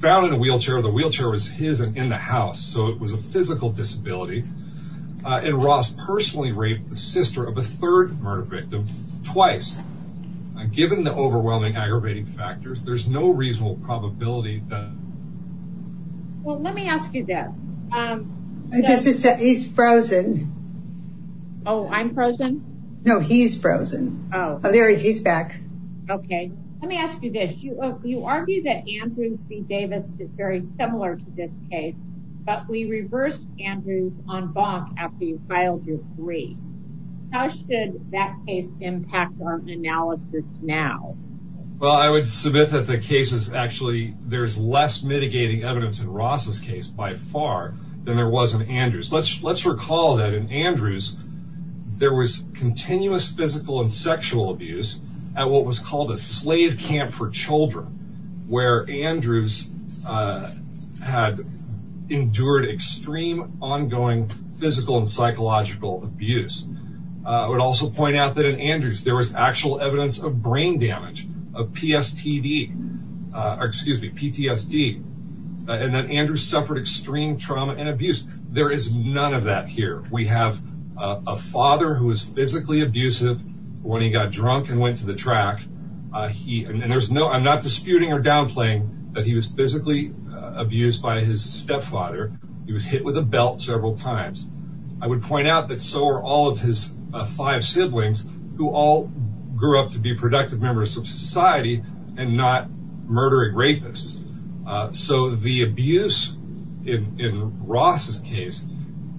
found in a wheelchair or the wheelchair was his and in the house. So it was a physical disability. Uh, and Ross personally raped the sister of a third murder victim twice. Given the overwhelming aggravating factors, there's no reasonable probability that. Well, let me ask you this. Um, he's frozen. Oh, I'm frozen. No, he's frozen. Oh, there he's back. Okay. Let me ask you this. You argue that Andrew C Davis is very similar to this case, but we reversed Andrew on bond after you filed your three. How should that case impact on analysis now? Well, I would submit that the case is actually, there's less mitigating evidence in Ross's case by far than there wasn't Andrews. Let's, let's recall that in Andrews, there was continuous physical and sexual abuse at what was called a slave camp for children, where Andrews, uh, had endured extreme ongoing physical and psychological abuse. Uh, I would also point out that in Andrews, there was actual evidence of brain damage of PSTD, uh, or excuse me, PTSD. And then Andrews suffered extreme trauma and abuse. There is none of that here. We have a father who was physically abusive when he got drunk and went to the track. Uh, he, and there's no, I'm not disputing or downplaying, but he was physically abused by his stepfather. He was hit with a belt several times. I would point out that so are all of his five siblings who all grew up to be productive members of society and not murdering rapists. Uh, so the abuse in, in Ross's case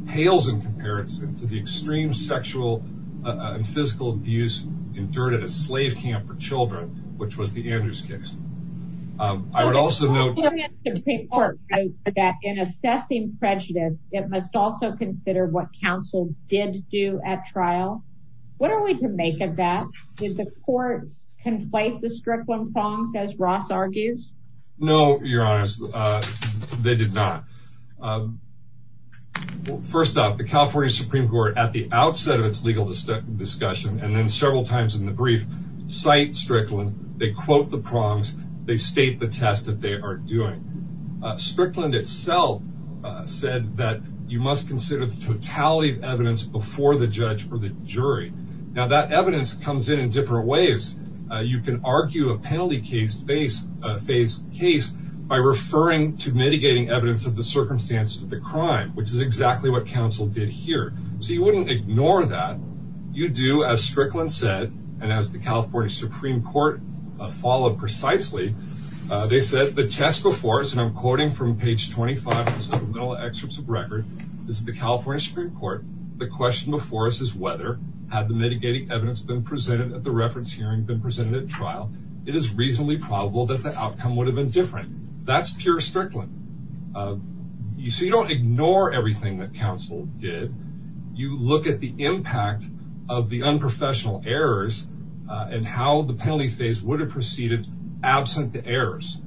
pales in comparison to the extreme sexual and physical abuse endured at a slave camp for children, which was the Andrews case. Um, I would also note that in assessing prejudice, it must also consider what counsel did do at trial. What are we to make of that? Does the court conflate the Strickland prongs as Ross argues? No, you're honest. Uh, they did not. Um, first off the California Supreme court at the outset of its legal discussion and then several times in the brief site Strickland, they quote the prongs. They state the test that they are doing. Uh, Strickland itself, uh, said that you must consider totality of evidence before the judge or the jury. Now that evidence comes in in different ways. Uh, you can argue a penalty case based a face case by referring to mitigating evidence of the circumstances of the crime, which is exactly what counsel did here. So you wouldn't ignore that. You do as Strickland said, and as the California Supreme court followed precisely, uh, they said the test before us, and I'm quoting from page 25, this is the California Supreme court. The question before us is whether, have the mitigating evidence been presented at the reference hearing, been presented at trial. It is reasonably probable that the outcome would have been different. That's pure Strickland. Uh, you see, you don't ignore everything that counsel did. You look at the impact of the unprofessional errors, uh, and how the penalty phase would have proceeded absent the errors.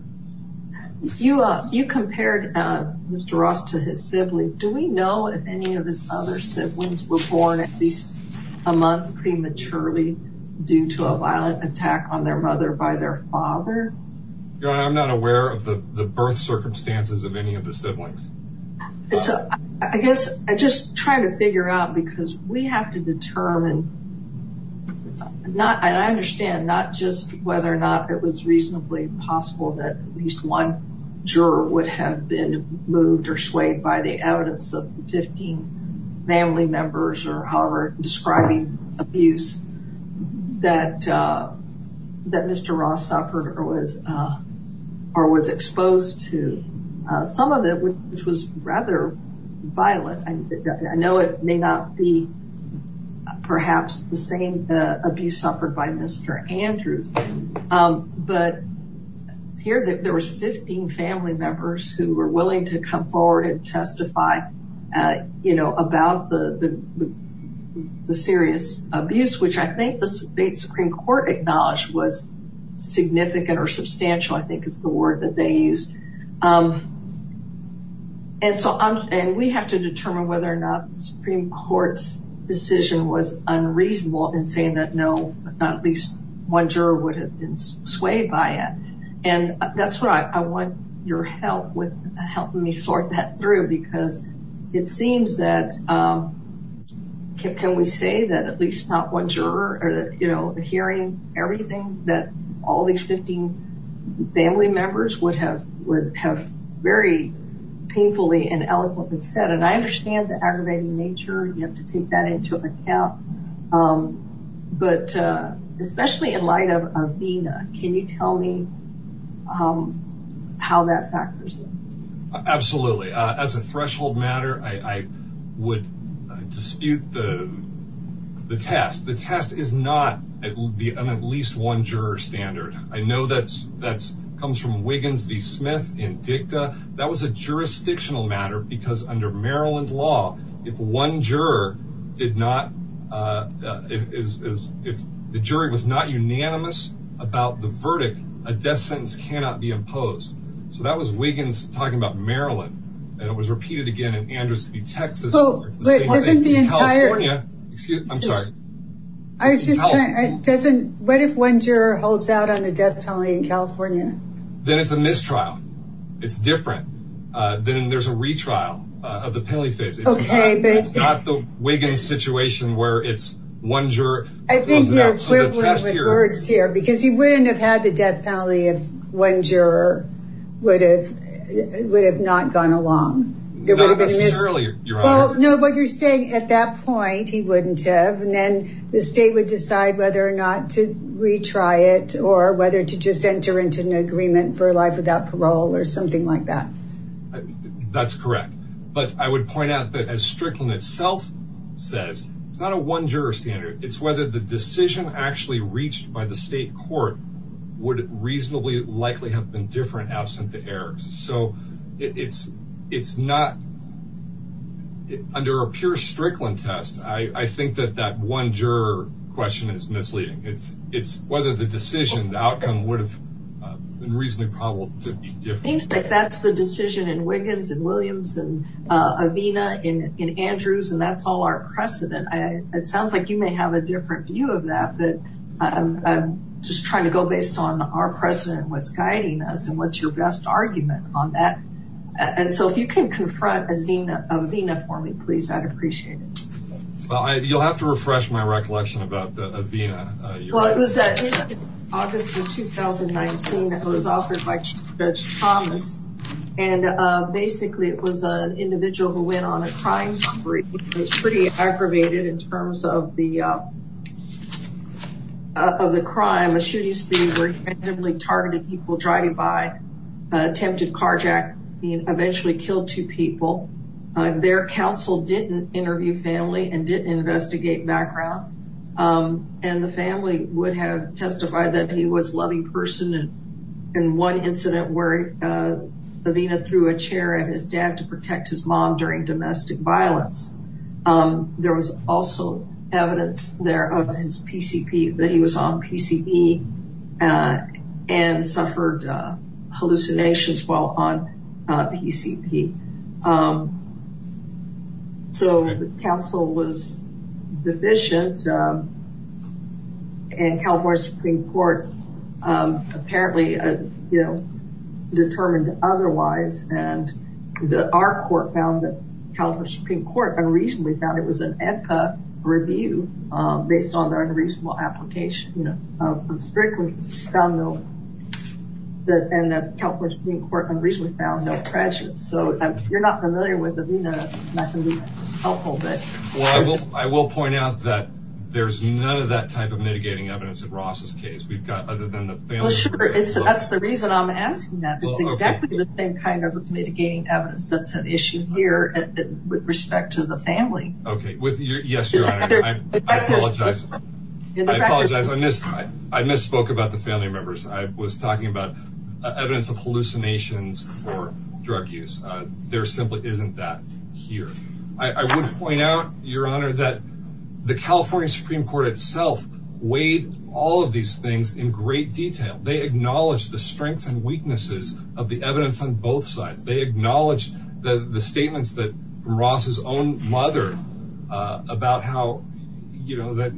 You, uh, you compared, uh, Mr. Ross to his siblings. Do we know if any of his other siblings were born at least a month prematurely due to a violent attack on their mother by their father? I'm not aware of the birth circumstances of any of the siblings. I guess I just trying to figure out because we have to determine, not, and I understand not just whether or not it was reasonably possible that at least one juror would have been moved or swayed by the evidence of the 15 family members or our describing abuse that, uh, that Mr. Ross suffered or was, uh, or was exposed to, uh, some of it, which was rather violent. I know it may not be perhaps the same, uh, abuse suffered by Mr. Andrews. Um, but here there was 15 family members who were willing to come forward and testify, uh, you know, about the, the, the, the serious abuse, which I think the state Supreme court acknowledged was significant or substantial. I think it's the word that they use. Um, and so I'm saying we have to determine whether or not the Supreme court's decision was unreasonable and saying that no, not at least one juror would have been swayed by it. And that's what I, I want your help with helping me sort that through because it seems that, um, can we say that at least not one juror or that, you know, hearing everything that all these 15 family members would have, would have very painfully and eloquently said, and I understand the aggravating nature, you have to take that into account. Um, but, uh, especially in light of Athena, can you tell me, um, how that factors in? Absolutely. Uh, as a threshold matter, I would dispute the, the test. The test is not, it will be on at least one juror standard. I know that's, that's comes from Wiggins v. Smith and that was a jurisdictional matter because under Maryland law, if one juror did not, uh, if the jury was not unanimous about the verdict, a death sentence cannot be imposed. So that was Wiggins talking about Maryland and it was repeated again in Andrews v. Texas. So what if one juror holds out on the death penalty in California? Then it's a mistrial. It's different. Uh, then there's a retrial of the penalty phase. It's not the Wiggins situation where it's one juror. I think we are quickly reversed here because he wouldn't have had the death penalty if one juror would have, would have not gone along. No, but you're saying at that point he wouldn't have, and then the state would decide whether or not to retry it or whether to just enter into an agreement for life without parole or something like that. That's correct. But I would point out that as Strickland itself says, it's not a one juror standard. It's whether the decision actually reached by the state court would reasonably likely have been different absent the errors. So it's, it's not under a pure Strickland test. I think that that one juror question is misleading. It's, it's whether the decision outcome would have been reasonably probable to be different. That's the decision in Wiggins and Williams and, uh, Avina in, in Andrews. And that's all our precedent. It sounds like you may have a different view of that, but I'm just trying to go based on our precedent with guiding us and what's And so if you can confront Avina, Avina for me, please, I'd appreciate it. You'll have to refresh my recollection about Avina. Well, it was August of 2019 that was offered by Chief Judge Thomas. And, uh, basically it was an individual who went on a crime spree. It was pretty aggravated in terms of the, uh, of the crime. A shooting spree where independently targeted people driving by attempted carjack eventually killed two people. Their counsel didn't interview family and didn't investigate background. Um, and the family would have testified that he was loving person. And one incident where, uh, Avina threw a chair at his dad to protect his mom during domestic violence. Um, there was also evidence there of his PCP that he was on PCP, uh, and suffered, uh, Hallucinations fall on, uh, PCP. Um, so the council was deficient, um, and California Supreme court, um, apparently, uh, you know, determined otherwise. And the, our court found that California Supreme court unreasonably found it was an echo review, um, based on the unreasonable application of, uh, from the California Supreme court. So you're not familiar with Avina. Well, I will, I will point out that there's none of that type of mitigating evidence of Ross's case. We've got other than the family. That's the reason I'm asking that same kind of mitigating evidence. That's an issue here with respect to the family. Okay. Yes. I misspoke about the family members. I was talking about, uh, evidence of hallucinations or drug use. Uh, there simply isn't that here. I would point out your honor that the California Supreme court itself weighed all of these things in great detail. They acknowledge the strengths and weaknesses of the evidence on both sides. They acknowledge the statements that Ross's own mother, uh, about how, you know, that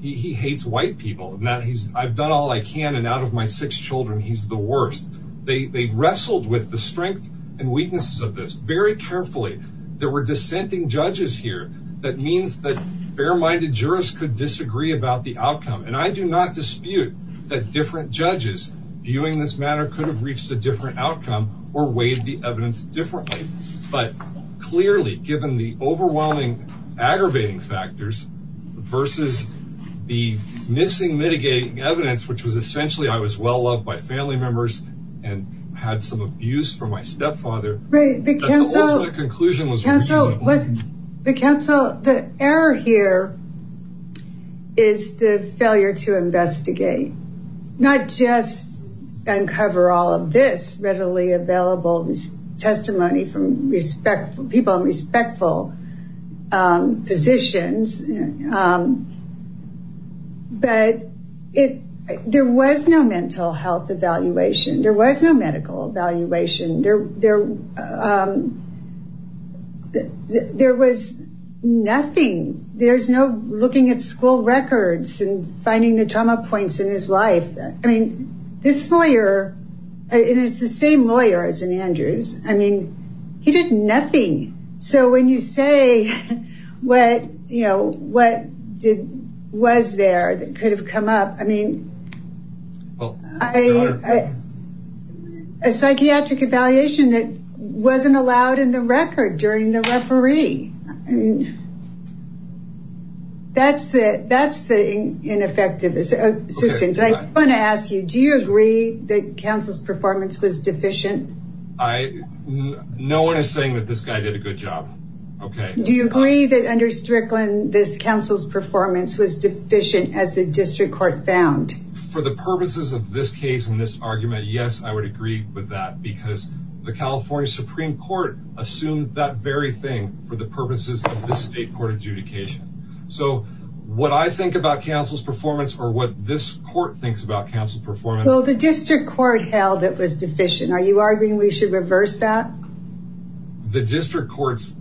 he, he hates white people. Now he's I've done all I can and out of my six children, he's the worst. They, they wrestled with the strength and weaknesses of this very carefully. There were dissenting judges here. That means that fair-minded jurors could disagree about the outcome. And I do not dispute that different judges viewing this matter could have reached a different outcome or weighed the evidence differently, but clearly given the overwhelming aggravating factors versus the missing mitigating evidence, which was essentially I was well-loved by family members and had some abuse from my stepfather. The cancel the error here is the failure to investigate, not just uncover all of this readily available testimony from respectful people, respectful, um, physicians. Um, but if there was no mental health evaluation, there was no medical evaluation there, there, um, there was nothing. There's no looking at school records and finding the trauma points in his life. I mean, this lawyer, and it's the same lawyers in Andrews. I mean, he did nothing. So when you say what, you know, what did, was there that could have come up? I mean, a psychiatric evaluation that wasn't allowed in the record during the referee. I mean, that's it. That's the ineffectiveness. I want to ask you, do you agree that counsel's performance was deficient? No one is saying that this guy did a good job. Okay. Do you agree that under Strickland, this counsel's performance was deficient as a district court found for the purposes of this case in this argument? Yes. I would agree with that because the California Supreme court assumed that the very thing for the purposes of this state court adjudication. So what I think about counsel's performance or what this court thinks about counsel performance, the district court held it was deficient. Are you arguing we should reverse that? The district courts,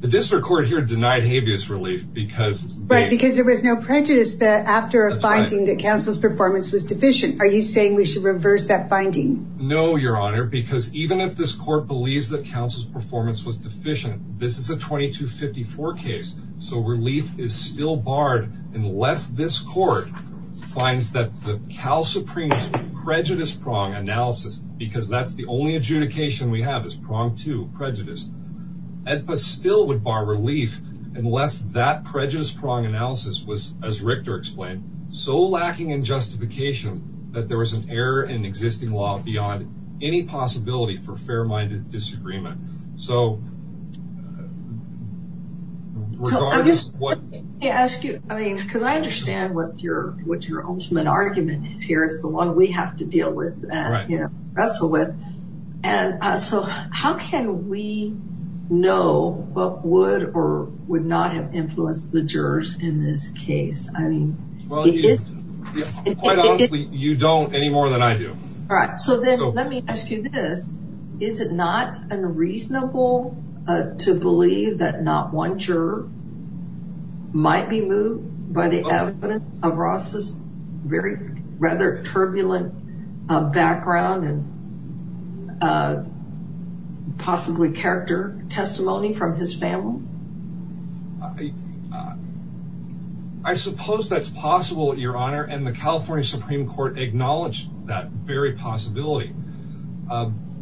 the district court here denied habeas relief because there was no prejudice that after a finding that counsel's performance was deficient. Are you saying we should reverse that finding? No, your honor, because even if this court believes that counsel's performance was deficient, this is a 2254 case. So relief is still barred unless this court finds that the Cal Supreme prejudice prong analysis, because that's the only adjudication we have is pronged to prejudice, but still would bar relief unless that prejudice prong analysis was, as Richter explained, so lacking in justification that there was an error in existing law beyond any possibility for fair minded disagreement. So I'm just going to ask you, I mean, cause I understand what's your ultimate argument here is the one we have to deal with and wrestle with. And so how can we know what would or would not have influenced the jurors in this case? I mean, you don't any more than I do. Let me ask you this. Is it not unreasonable to believe that not one juror might be moved by the evidence of Ross's very rather turbulent background and possibly character testimony from his family? I suppose that's possible, your honor. And the California Supreme court acknowledged that very possibility.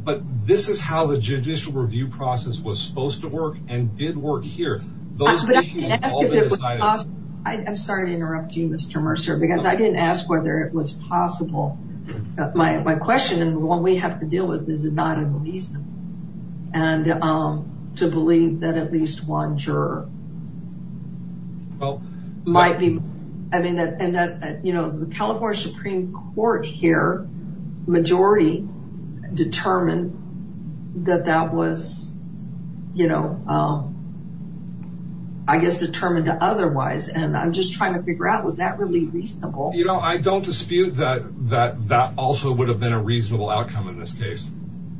But this is how the judicial review process was supposed to work and did work here. I'm sorry to interrupt you, Mr. Mercer, because I didn't ask whether it was possible that my, my question and what we have to deal with is not a reason. And to believe that at least one juror might be, I mean that, and that, you know, the California Supreme court here, majority determined that that was, you know, I guess determined to otherwise. And I'm just trying to figure out, was that really reasonable? I don't dispute that, that that also would have been a reasonable outcome in this case.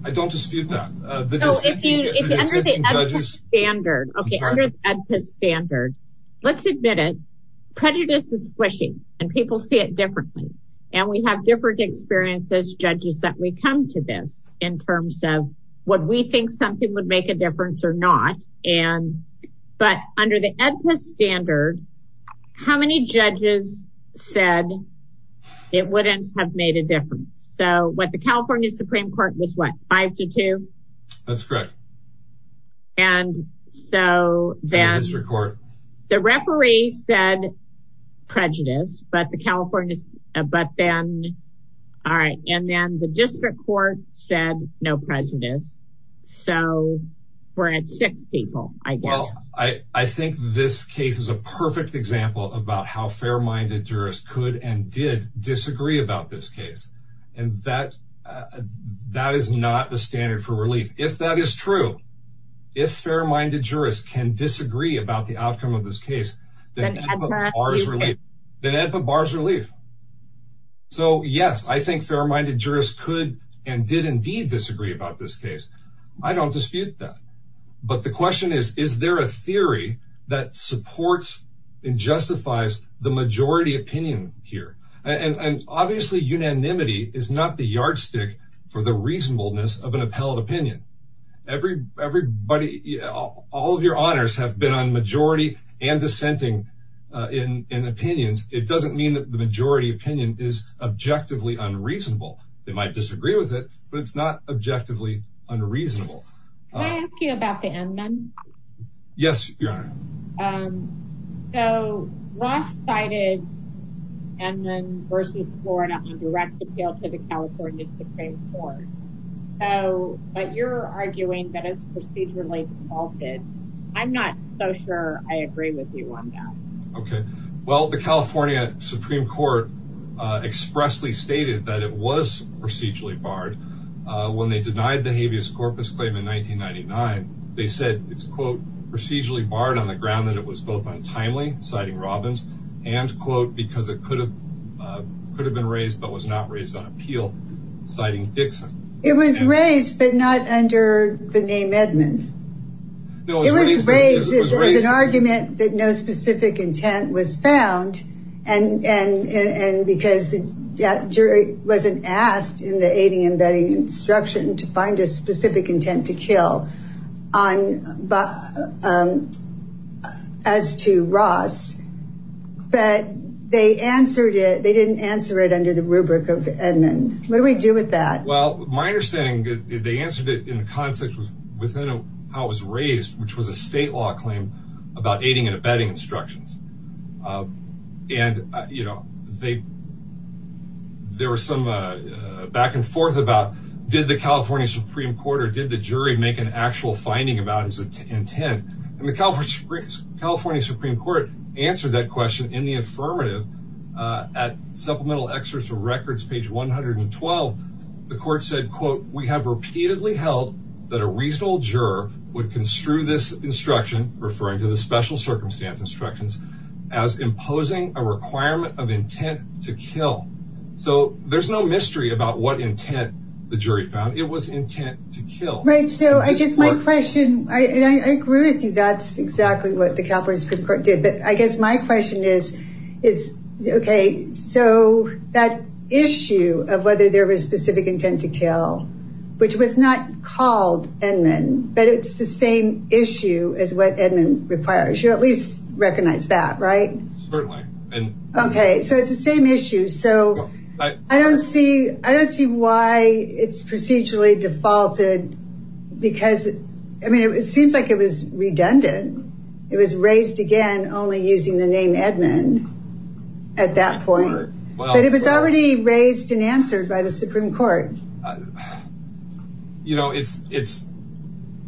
I don't dispute that. Standard standard. Let's admit it. Prejudice is squishy and people see it differently. And we have different experiences, judges that we come to this in terms of what we think something would make a difference or not. And, but under the standard, how many judges said it wouldn't have made a difference. So what the California Supreme court was what five to two. That's correct. And so then the referee said prejudice, but the California, but then, all right. And then the district court said no prejudice. So we're at six people, I guess. I think this case is a perfect example about how fair-minded jurists could and did disagree about this case. And that, that is not the standard for relief. If that is true, if fair-minded jurists can disagree about the outcome of this case, then that's a bars relief. So yes, I think fair-minded jurists could and did indeed disagree about this case. I don't dispute that, but the question is, is there a theory that supports and justifies the majority opinion here? And obviously unanimity is not the yardstick for the reasonableness of an appellate opinion. Every, everybody, all of your honors have been on majority and dissenting in opinions. It doesn't mean that the majority opinion is objectively unreasonable. They might disagree with it, but it's not objectively unreasonable. Can I ask you about the Edmunds? Yes, your honor. So last cited Edmunds versus Florida on a direct appeal to the California Supreme Court. So, but you're arguing that it's procedurally faulted. I'm not so sure I agree with you on that. Okay. Well, the California Supreme Court expressly stated that it was procedurally barred. When they denied the habeas corpus claim in 1999, they said it's procedurally barred on the ground that it was both untimely citing Robbins and quote, because it could have, could have been raised, but was not raised on appeal citing Dixon. It was raised, but not under the name Edmunds. It was raised as an argument that no specific intent was found. And, and, and because the jury wasn't asked in the aiding and abetting instruction to find a specific intent to kill on, but as to Ross, but they answered it. They didn't answer it under the rubric of Edmunds. What do we do with that? Well, my understanding is they answered it in the context of how it was raised, which was a state law claim about aiding and abetting instructions. And you know, they, there were some back and forth about, did the California Supreme court or did the jury make an actual finding about his intent? And the California California Supreme court answered that question in the affirmative at supplemental excerpts of records, page 112. The court said, quote, we have repeatedly held that a reasonable juror would construe this instruction referring to the special circumstance instructions as imposing a requirement of intent to kill. So there's no mystery about what intent the jury found it was intent to kill. So I guess my question, I agree with you. That's exactly what the California Supreme court did. But I guess my question is, is okay. So that issue of whether there was specific intent to kill, which was not called Edmund, but it's the same issue as what Edmund requires. You at least recognize that, right? Okay. So it's the same issue. So I don't see, I don't see why it's procedurally defaulted because I mean, it seems like it was redundant. It was raised again, only using the name Edmund at that point, but it was already raised in answers by the Supreme court. You know, it's, it's,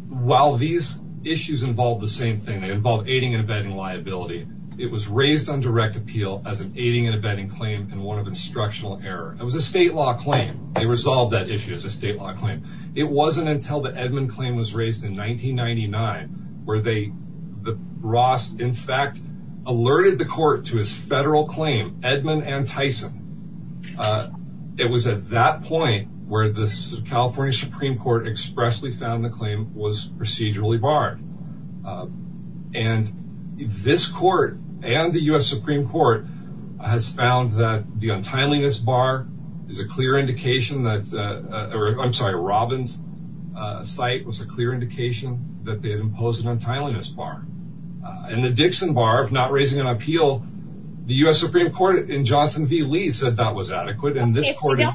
while these issues involve the same thing, they involve aiding and abetting liability. It was raised on direct appeal as an aiding and abetting claim. And one of the instructional error, it was a state law claim. They resolved that issue as a state law claim. It wasn't until the Edmund claim was raised in 1999, where they, the Ross in fact alerted the court to his federal claim, Edmund and Tyson. It was at that point where the California Supreme court expressly found the claim was procedurally barred. And this court and the U S Supreme court has found that the untimeliness bar is a clear indication that, or I'm sorry, Robin's site was a clear indication that they had imposed an untimeliness bar and the Dixon bar of not raising an appeal, the U S Supreme court in Johnson V Lee said that was adequate. Procedurally defaulted.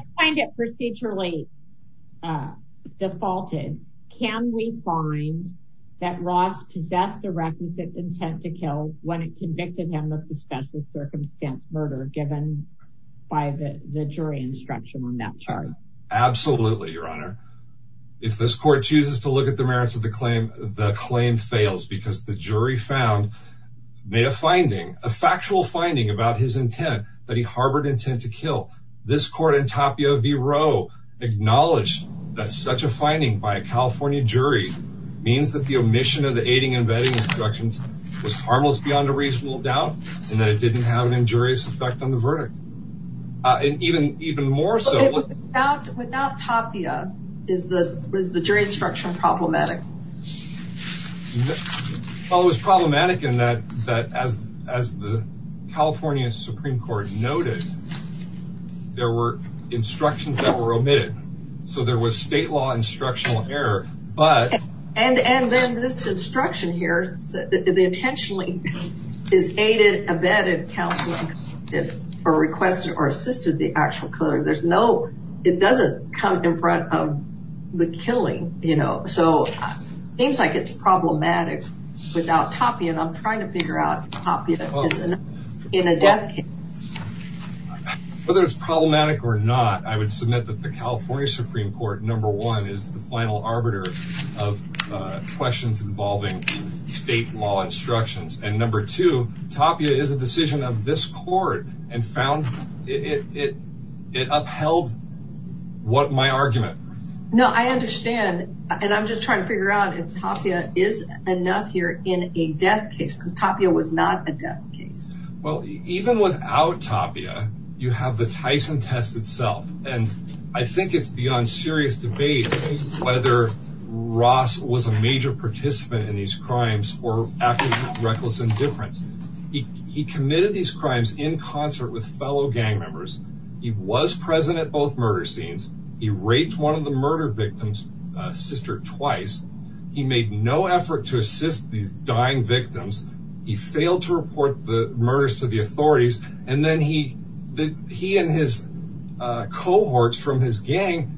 Can we find that Ross possess the requisite intent to kill when it convicted him of the special circumstance murder given by the jury instruction on that chart? Absolutely. Your honor. If this court chooses to look at the merits of the claim, the claim fails because the jury found may have finding a factual finding about his intent, but he harbored intent to kill. This court in Tapia V Roe acknowledged that such a finding by a California jury means that the omission of the aiding and abetting instructions was harmless beyond a reasonable doubt, and that it didn't have an injurious effect on the verdict. And even, even more so is the jury instruction problematic. Oh, it was problematic in that, that as, as the California Supreme court noted, there were instructions that were omitted. So there was state law instructional error, but, and, and then this instruction here, the intentionally is aided abetted counseling or requested or assisted the actual color. There's no, it doesn't come in front of the killing, you know? So it seems like it's problematic without copy. And I'm trying to figure out in a decade, whether it's problematic or not, I would submit that the California Supreme court number one is the final arbiter of questions involving state law instructions. And number two, Tapia is a decision of this court and found it upheld what my argument. No, I understand. And I'm just trying to figure out if Tapia is enough here in a death case. Tapia was not a death case. Well, even without Tapia, you have the Tyson test itself. And I think it's beyond serious debate whether Ross was a major participant in these crimes or reckless indifference. He committed these crimes in concert with fellow gang members. He was present at both murder scenes. He raped one of the murder victims sister twice. He made no effort to assist the dying victims. He failed to report the murders to the authorities. And then he, he and his cohorts from his gang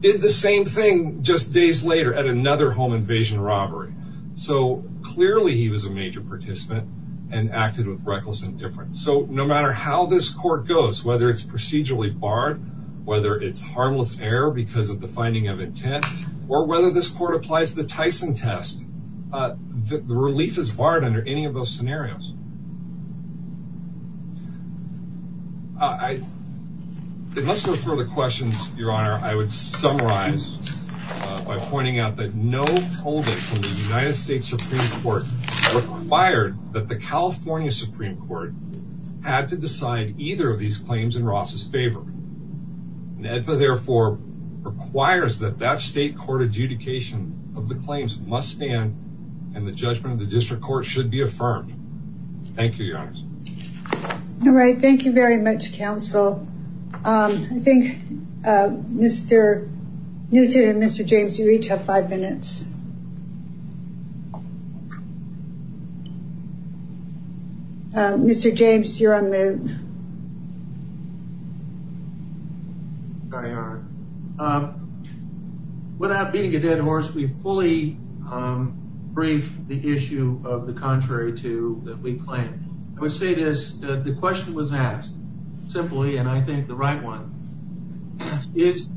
did the same thing just days later at another home invasion robbery. So clearly he was a major participant and acted with reckless indifference. So no matter how this court goes, whether it's procedurally barred, whether it's harmless error because of the finding of intent or whether this court applies the Tyson test, the relief is barred under any of those scenarios. I, unless there's further questions, Your Honor, I would summarize by pointing out that no holdup from the United States Supreme Court required that the California Supreme Court had to decide either of these claims in Ross's favor. Therefore requires that that state court adjudication of the claims must stand and the judgment of the district court should be affirmed. Thank you. All right. Thank you very much. Counsel. Um, I think, uh, Mr. Mr. James, you each have five minutes. Um, Mr. James, you're on the. Sorry. All right. Um, without being a dead horse, we fully, um, bring the issue of the contrary to that. We plan. I would say this, that the question was asked simply, and I think the right one is,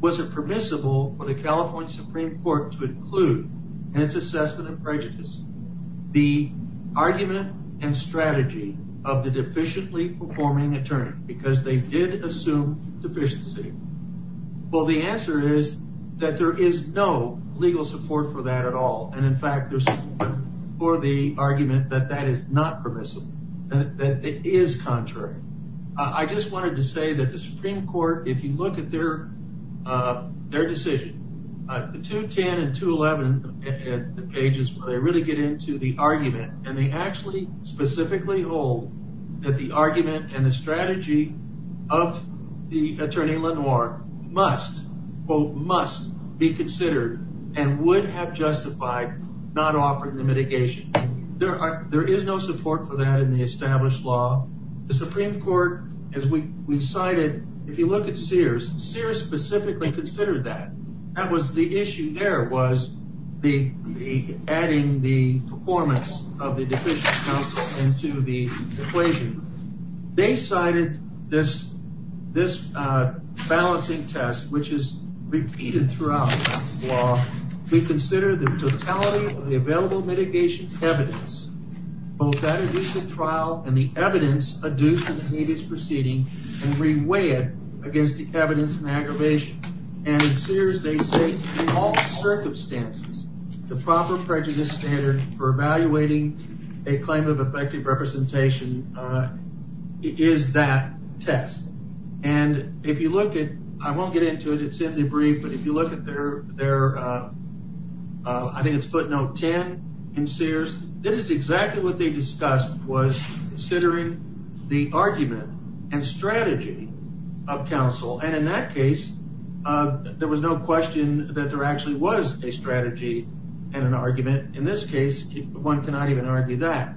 was it permissible for the California Supreme Court to include and to assessment of prejudice, the argument and strategy of the deficiently performing attorney, because they did assume deficiency. Well, the answer is that there is no legal support for that at all. And in fact, there's for the argument that that is not permissible, that it is contrary. I just wanted to say that the Supreme Court, if you look at their, uh, their decision, uh, the two 10 and two 11 pages, but I really get into the argument and they actually specifically hold that the argument and the strategy of the attorney Lenore must quote, must be considered and would have justified not offering the mitigation. There are, there is no support for that in the established law. The Supreme Court, as we decided, if you look at Sears, Sears specifically considered that that was the issue there was the adding the performance of the deficient counsel into the equation. They cited this, this, uh, balancing test, which is repeated throughout law. We consider the totality of the available mitigation evidence, both that initial trial and the evidence produced in the media's proceeding and reweigh it against the evidence and aggravation. And Sears they say in all circumstances, the proper prejudice standard for evaluating a claim of effective representation, uh, is that test. And if you look at, I won't get into it, it's in the brief, but if you look at their, their, uh, uh, I think it's footnote 10 in Sears, this is exactly what they discussed was considering the argument and strategy of counsel. And in that case, uh, there was no question that there actually was a strategy and an argument in this case, one cannot even argue that.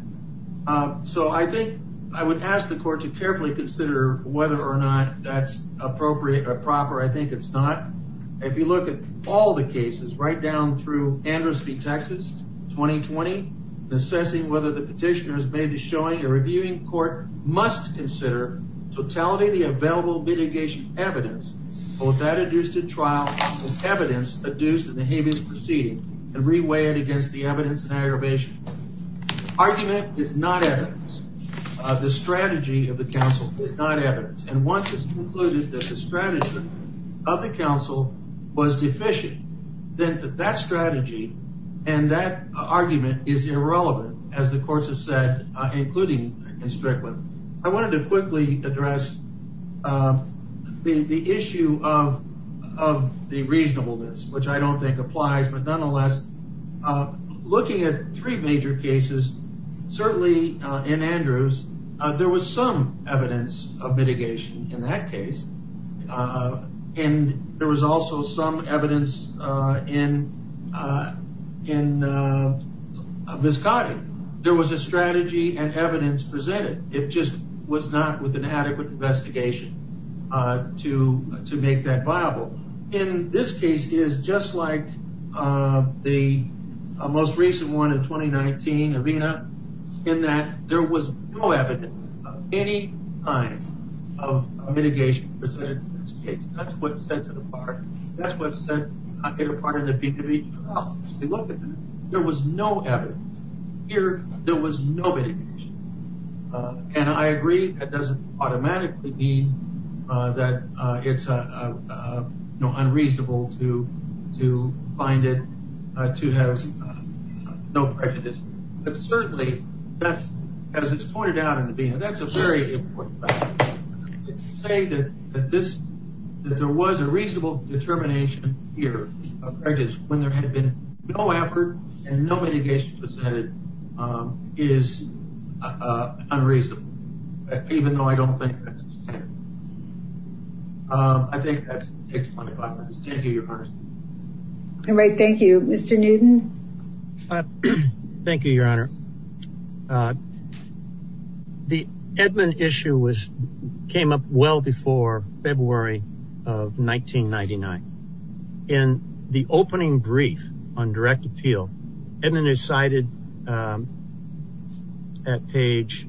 Uh, so I think I would ask the court to carefully consider whether or not that's appropriate or proper. I think it's not. If you look at all the cases right down through Amherst v. Texas, 2020, assessing whether the petitioners may be showing a reviewing court must consider totality, the available mitigation evidence, or was that adjusted trial evidence adduced in the Habeas proceeding and reweigh it against the evidence and aggravation. Argument is not evidence. Uh, the strategy of the council is not evidence. And once it's concluded that the strategy of the council was deficient, then that strategy and that argument is irrelevant. As the courts have said, uh, including in Strickland, I wanted to quickly address, uh, the, the issue of, of the reasonableness, which I don't think applies, but nonetheless, uh, looking at three major cases, certainly, uh, in Andrews, uh, there was some evidence of mitigation in that case. Uh, and there was also some evidence, uh, in, uh, in, uh, this guy, there was a strategy and evidence presented. It just was not with an adequate investigation, uh, to, to make that viable in this case is just like, uh, the most recent one in 2019 arena in that there was no evidence of any kind of mitigation. That's what sets it apart. That's what sets it apart. There was no evidence here. There was nobody. Uh, and I agree. It doesn't automatically mean, uh, that, uh, it's, uh, uh, no, unreasonable to, to find it, uh, to have no prejudice, but certainly that's, as it's pointed out in the being, that's a very important thing to say that, that this, that there was a reasonable determination here when there had been no effort and no mitigation presented, um, is, uh, unreasonable even though I don't think that's, um, I think that's 25 minutes. Thank you. Right. Thank you, Mr. Newton. Thank you, your honor. Uh, the Edmund issue was, came up well before February of 1999. In the opening brief on direct appeal, Edmund is cited, um, at page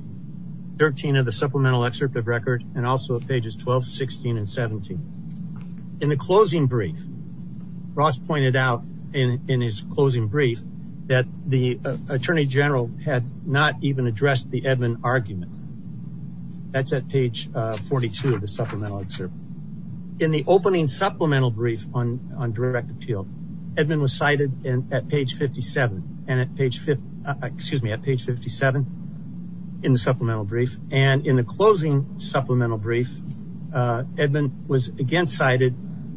13 of the supplemental excerpt of record and also pages 12, 16, and 17. In the closing brief, Ross pointed out in his closing brief that the attorney general had not even addressed the Edmund argument. That's at page, uh, 42 of the supplemental excerpt in the opening supplemental brief on, on direct appeal. Edmund was cited at page 57 and at page, excuse me, at page 57 in the supplemental brief. And in the closing supplemental brief, uh, Edmund was again cited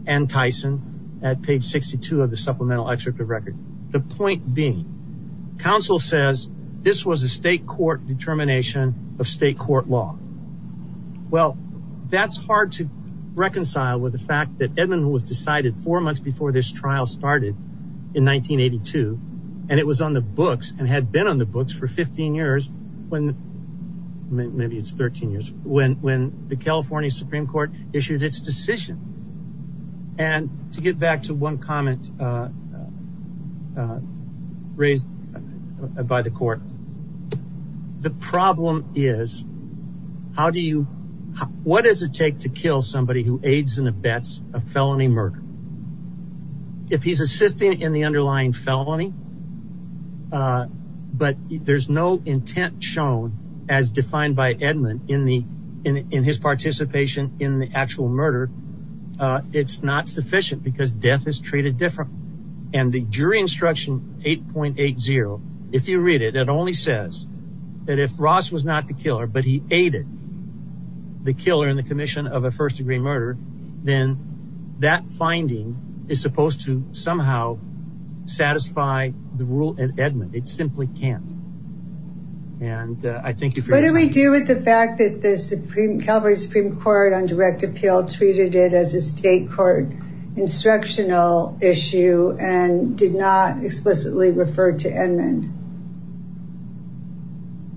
and Tyson at page 62 of the supplemental excerpt of record. The point being, counsel says this was a state court determination of state court law. Well, that's hard to reconcile with the fact that Edmund was decided four months before this trial started in 1982. And it was on the books and had been on the books for 15 years when maybe it's 13 years when, when the California Supreme court issued its decision. And to get back to one comment, uh, uh, raised by the court. The problem is how do you, what does it take to kill somebody who aids in the bets of felony murder? If he's assisting in the underlying felony, uh, but there's no intent shown as defined by Edmund in the, in, in his participation in the actual murder. Uh, it's not sufficient because death is treated differently. And the jury instruction 8.80, if you read it, it only says that if Ross was not the killer, but he aided the killer in the commission of a first degree murder, then that finding is supposed to somehow satisfy the rule at Edmund. It simply can't. And, uh, I think if we deal with the fact that the Supreme Calvary Supreme court on did not explicitly refer to Edmund.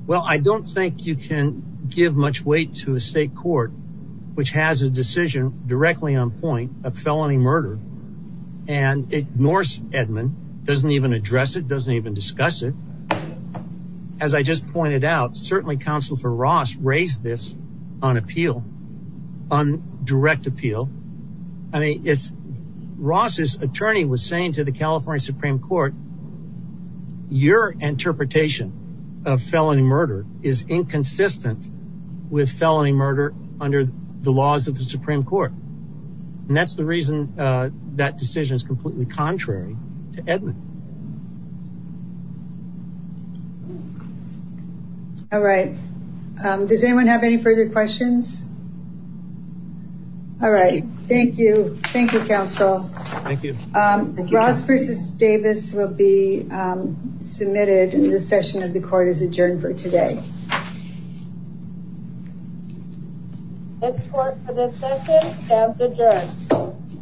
Well, I don't think you can give much weight to a state court, which has a decision directly on point of felony murder and ignores Edmund doesn't even address it. Doesn't even discuss it. As I just pointed out, certainly counsel for Ross raised this on appeal, on direct appeal. I mean, it's Ross's attorney was saying to the California Supreme court, your interpretation of felony murder is inconsistent with felony murder under the laws of the Supreme court. And that's the reason that decision is completely contrary to Edmund. All right. Um, does anyone have any further questions? All right. Thank you. Thank you. Counsel. Thank you. Um, Davis will be, um, submitted and the session of the court is adjourned for today.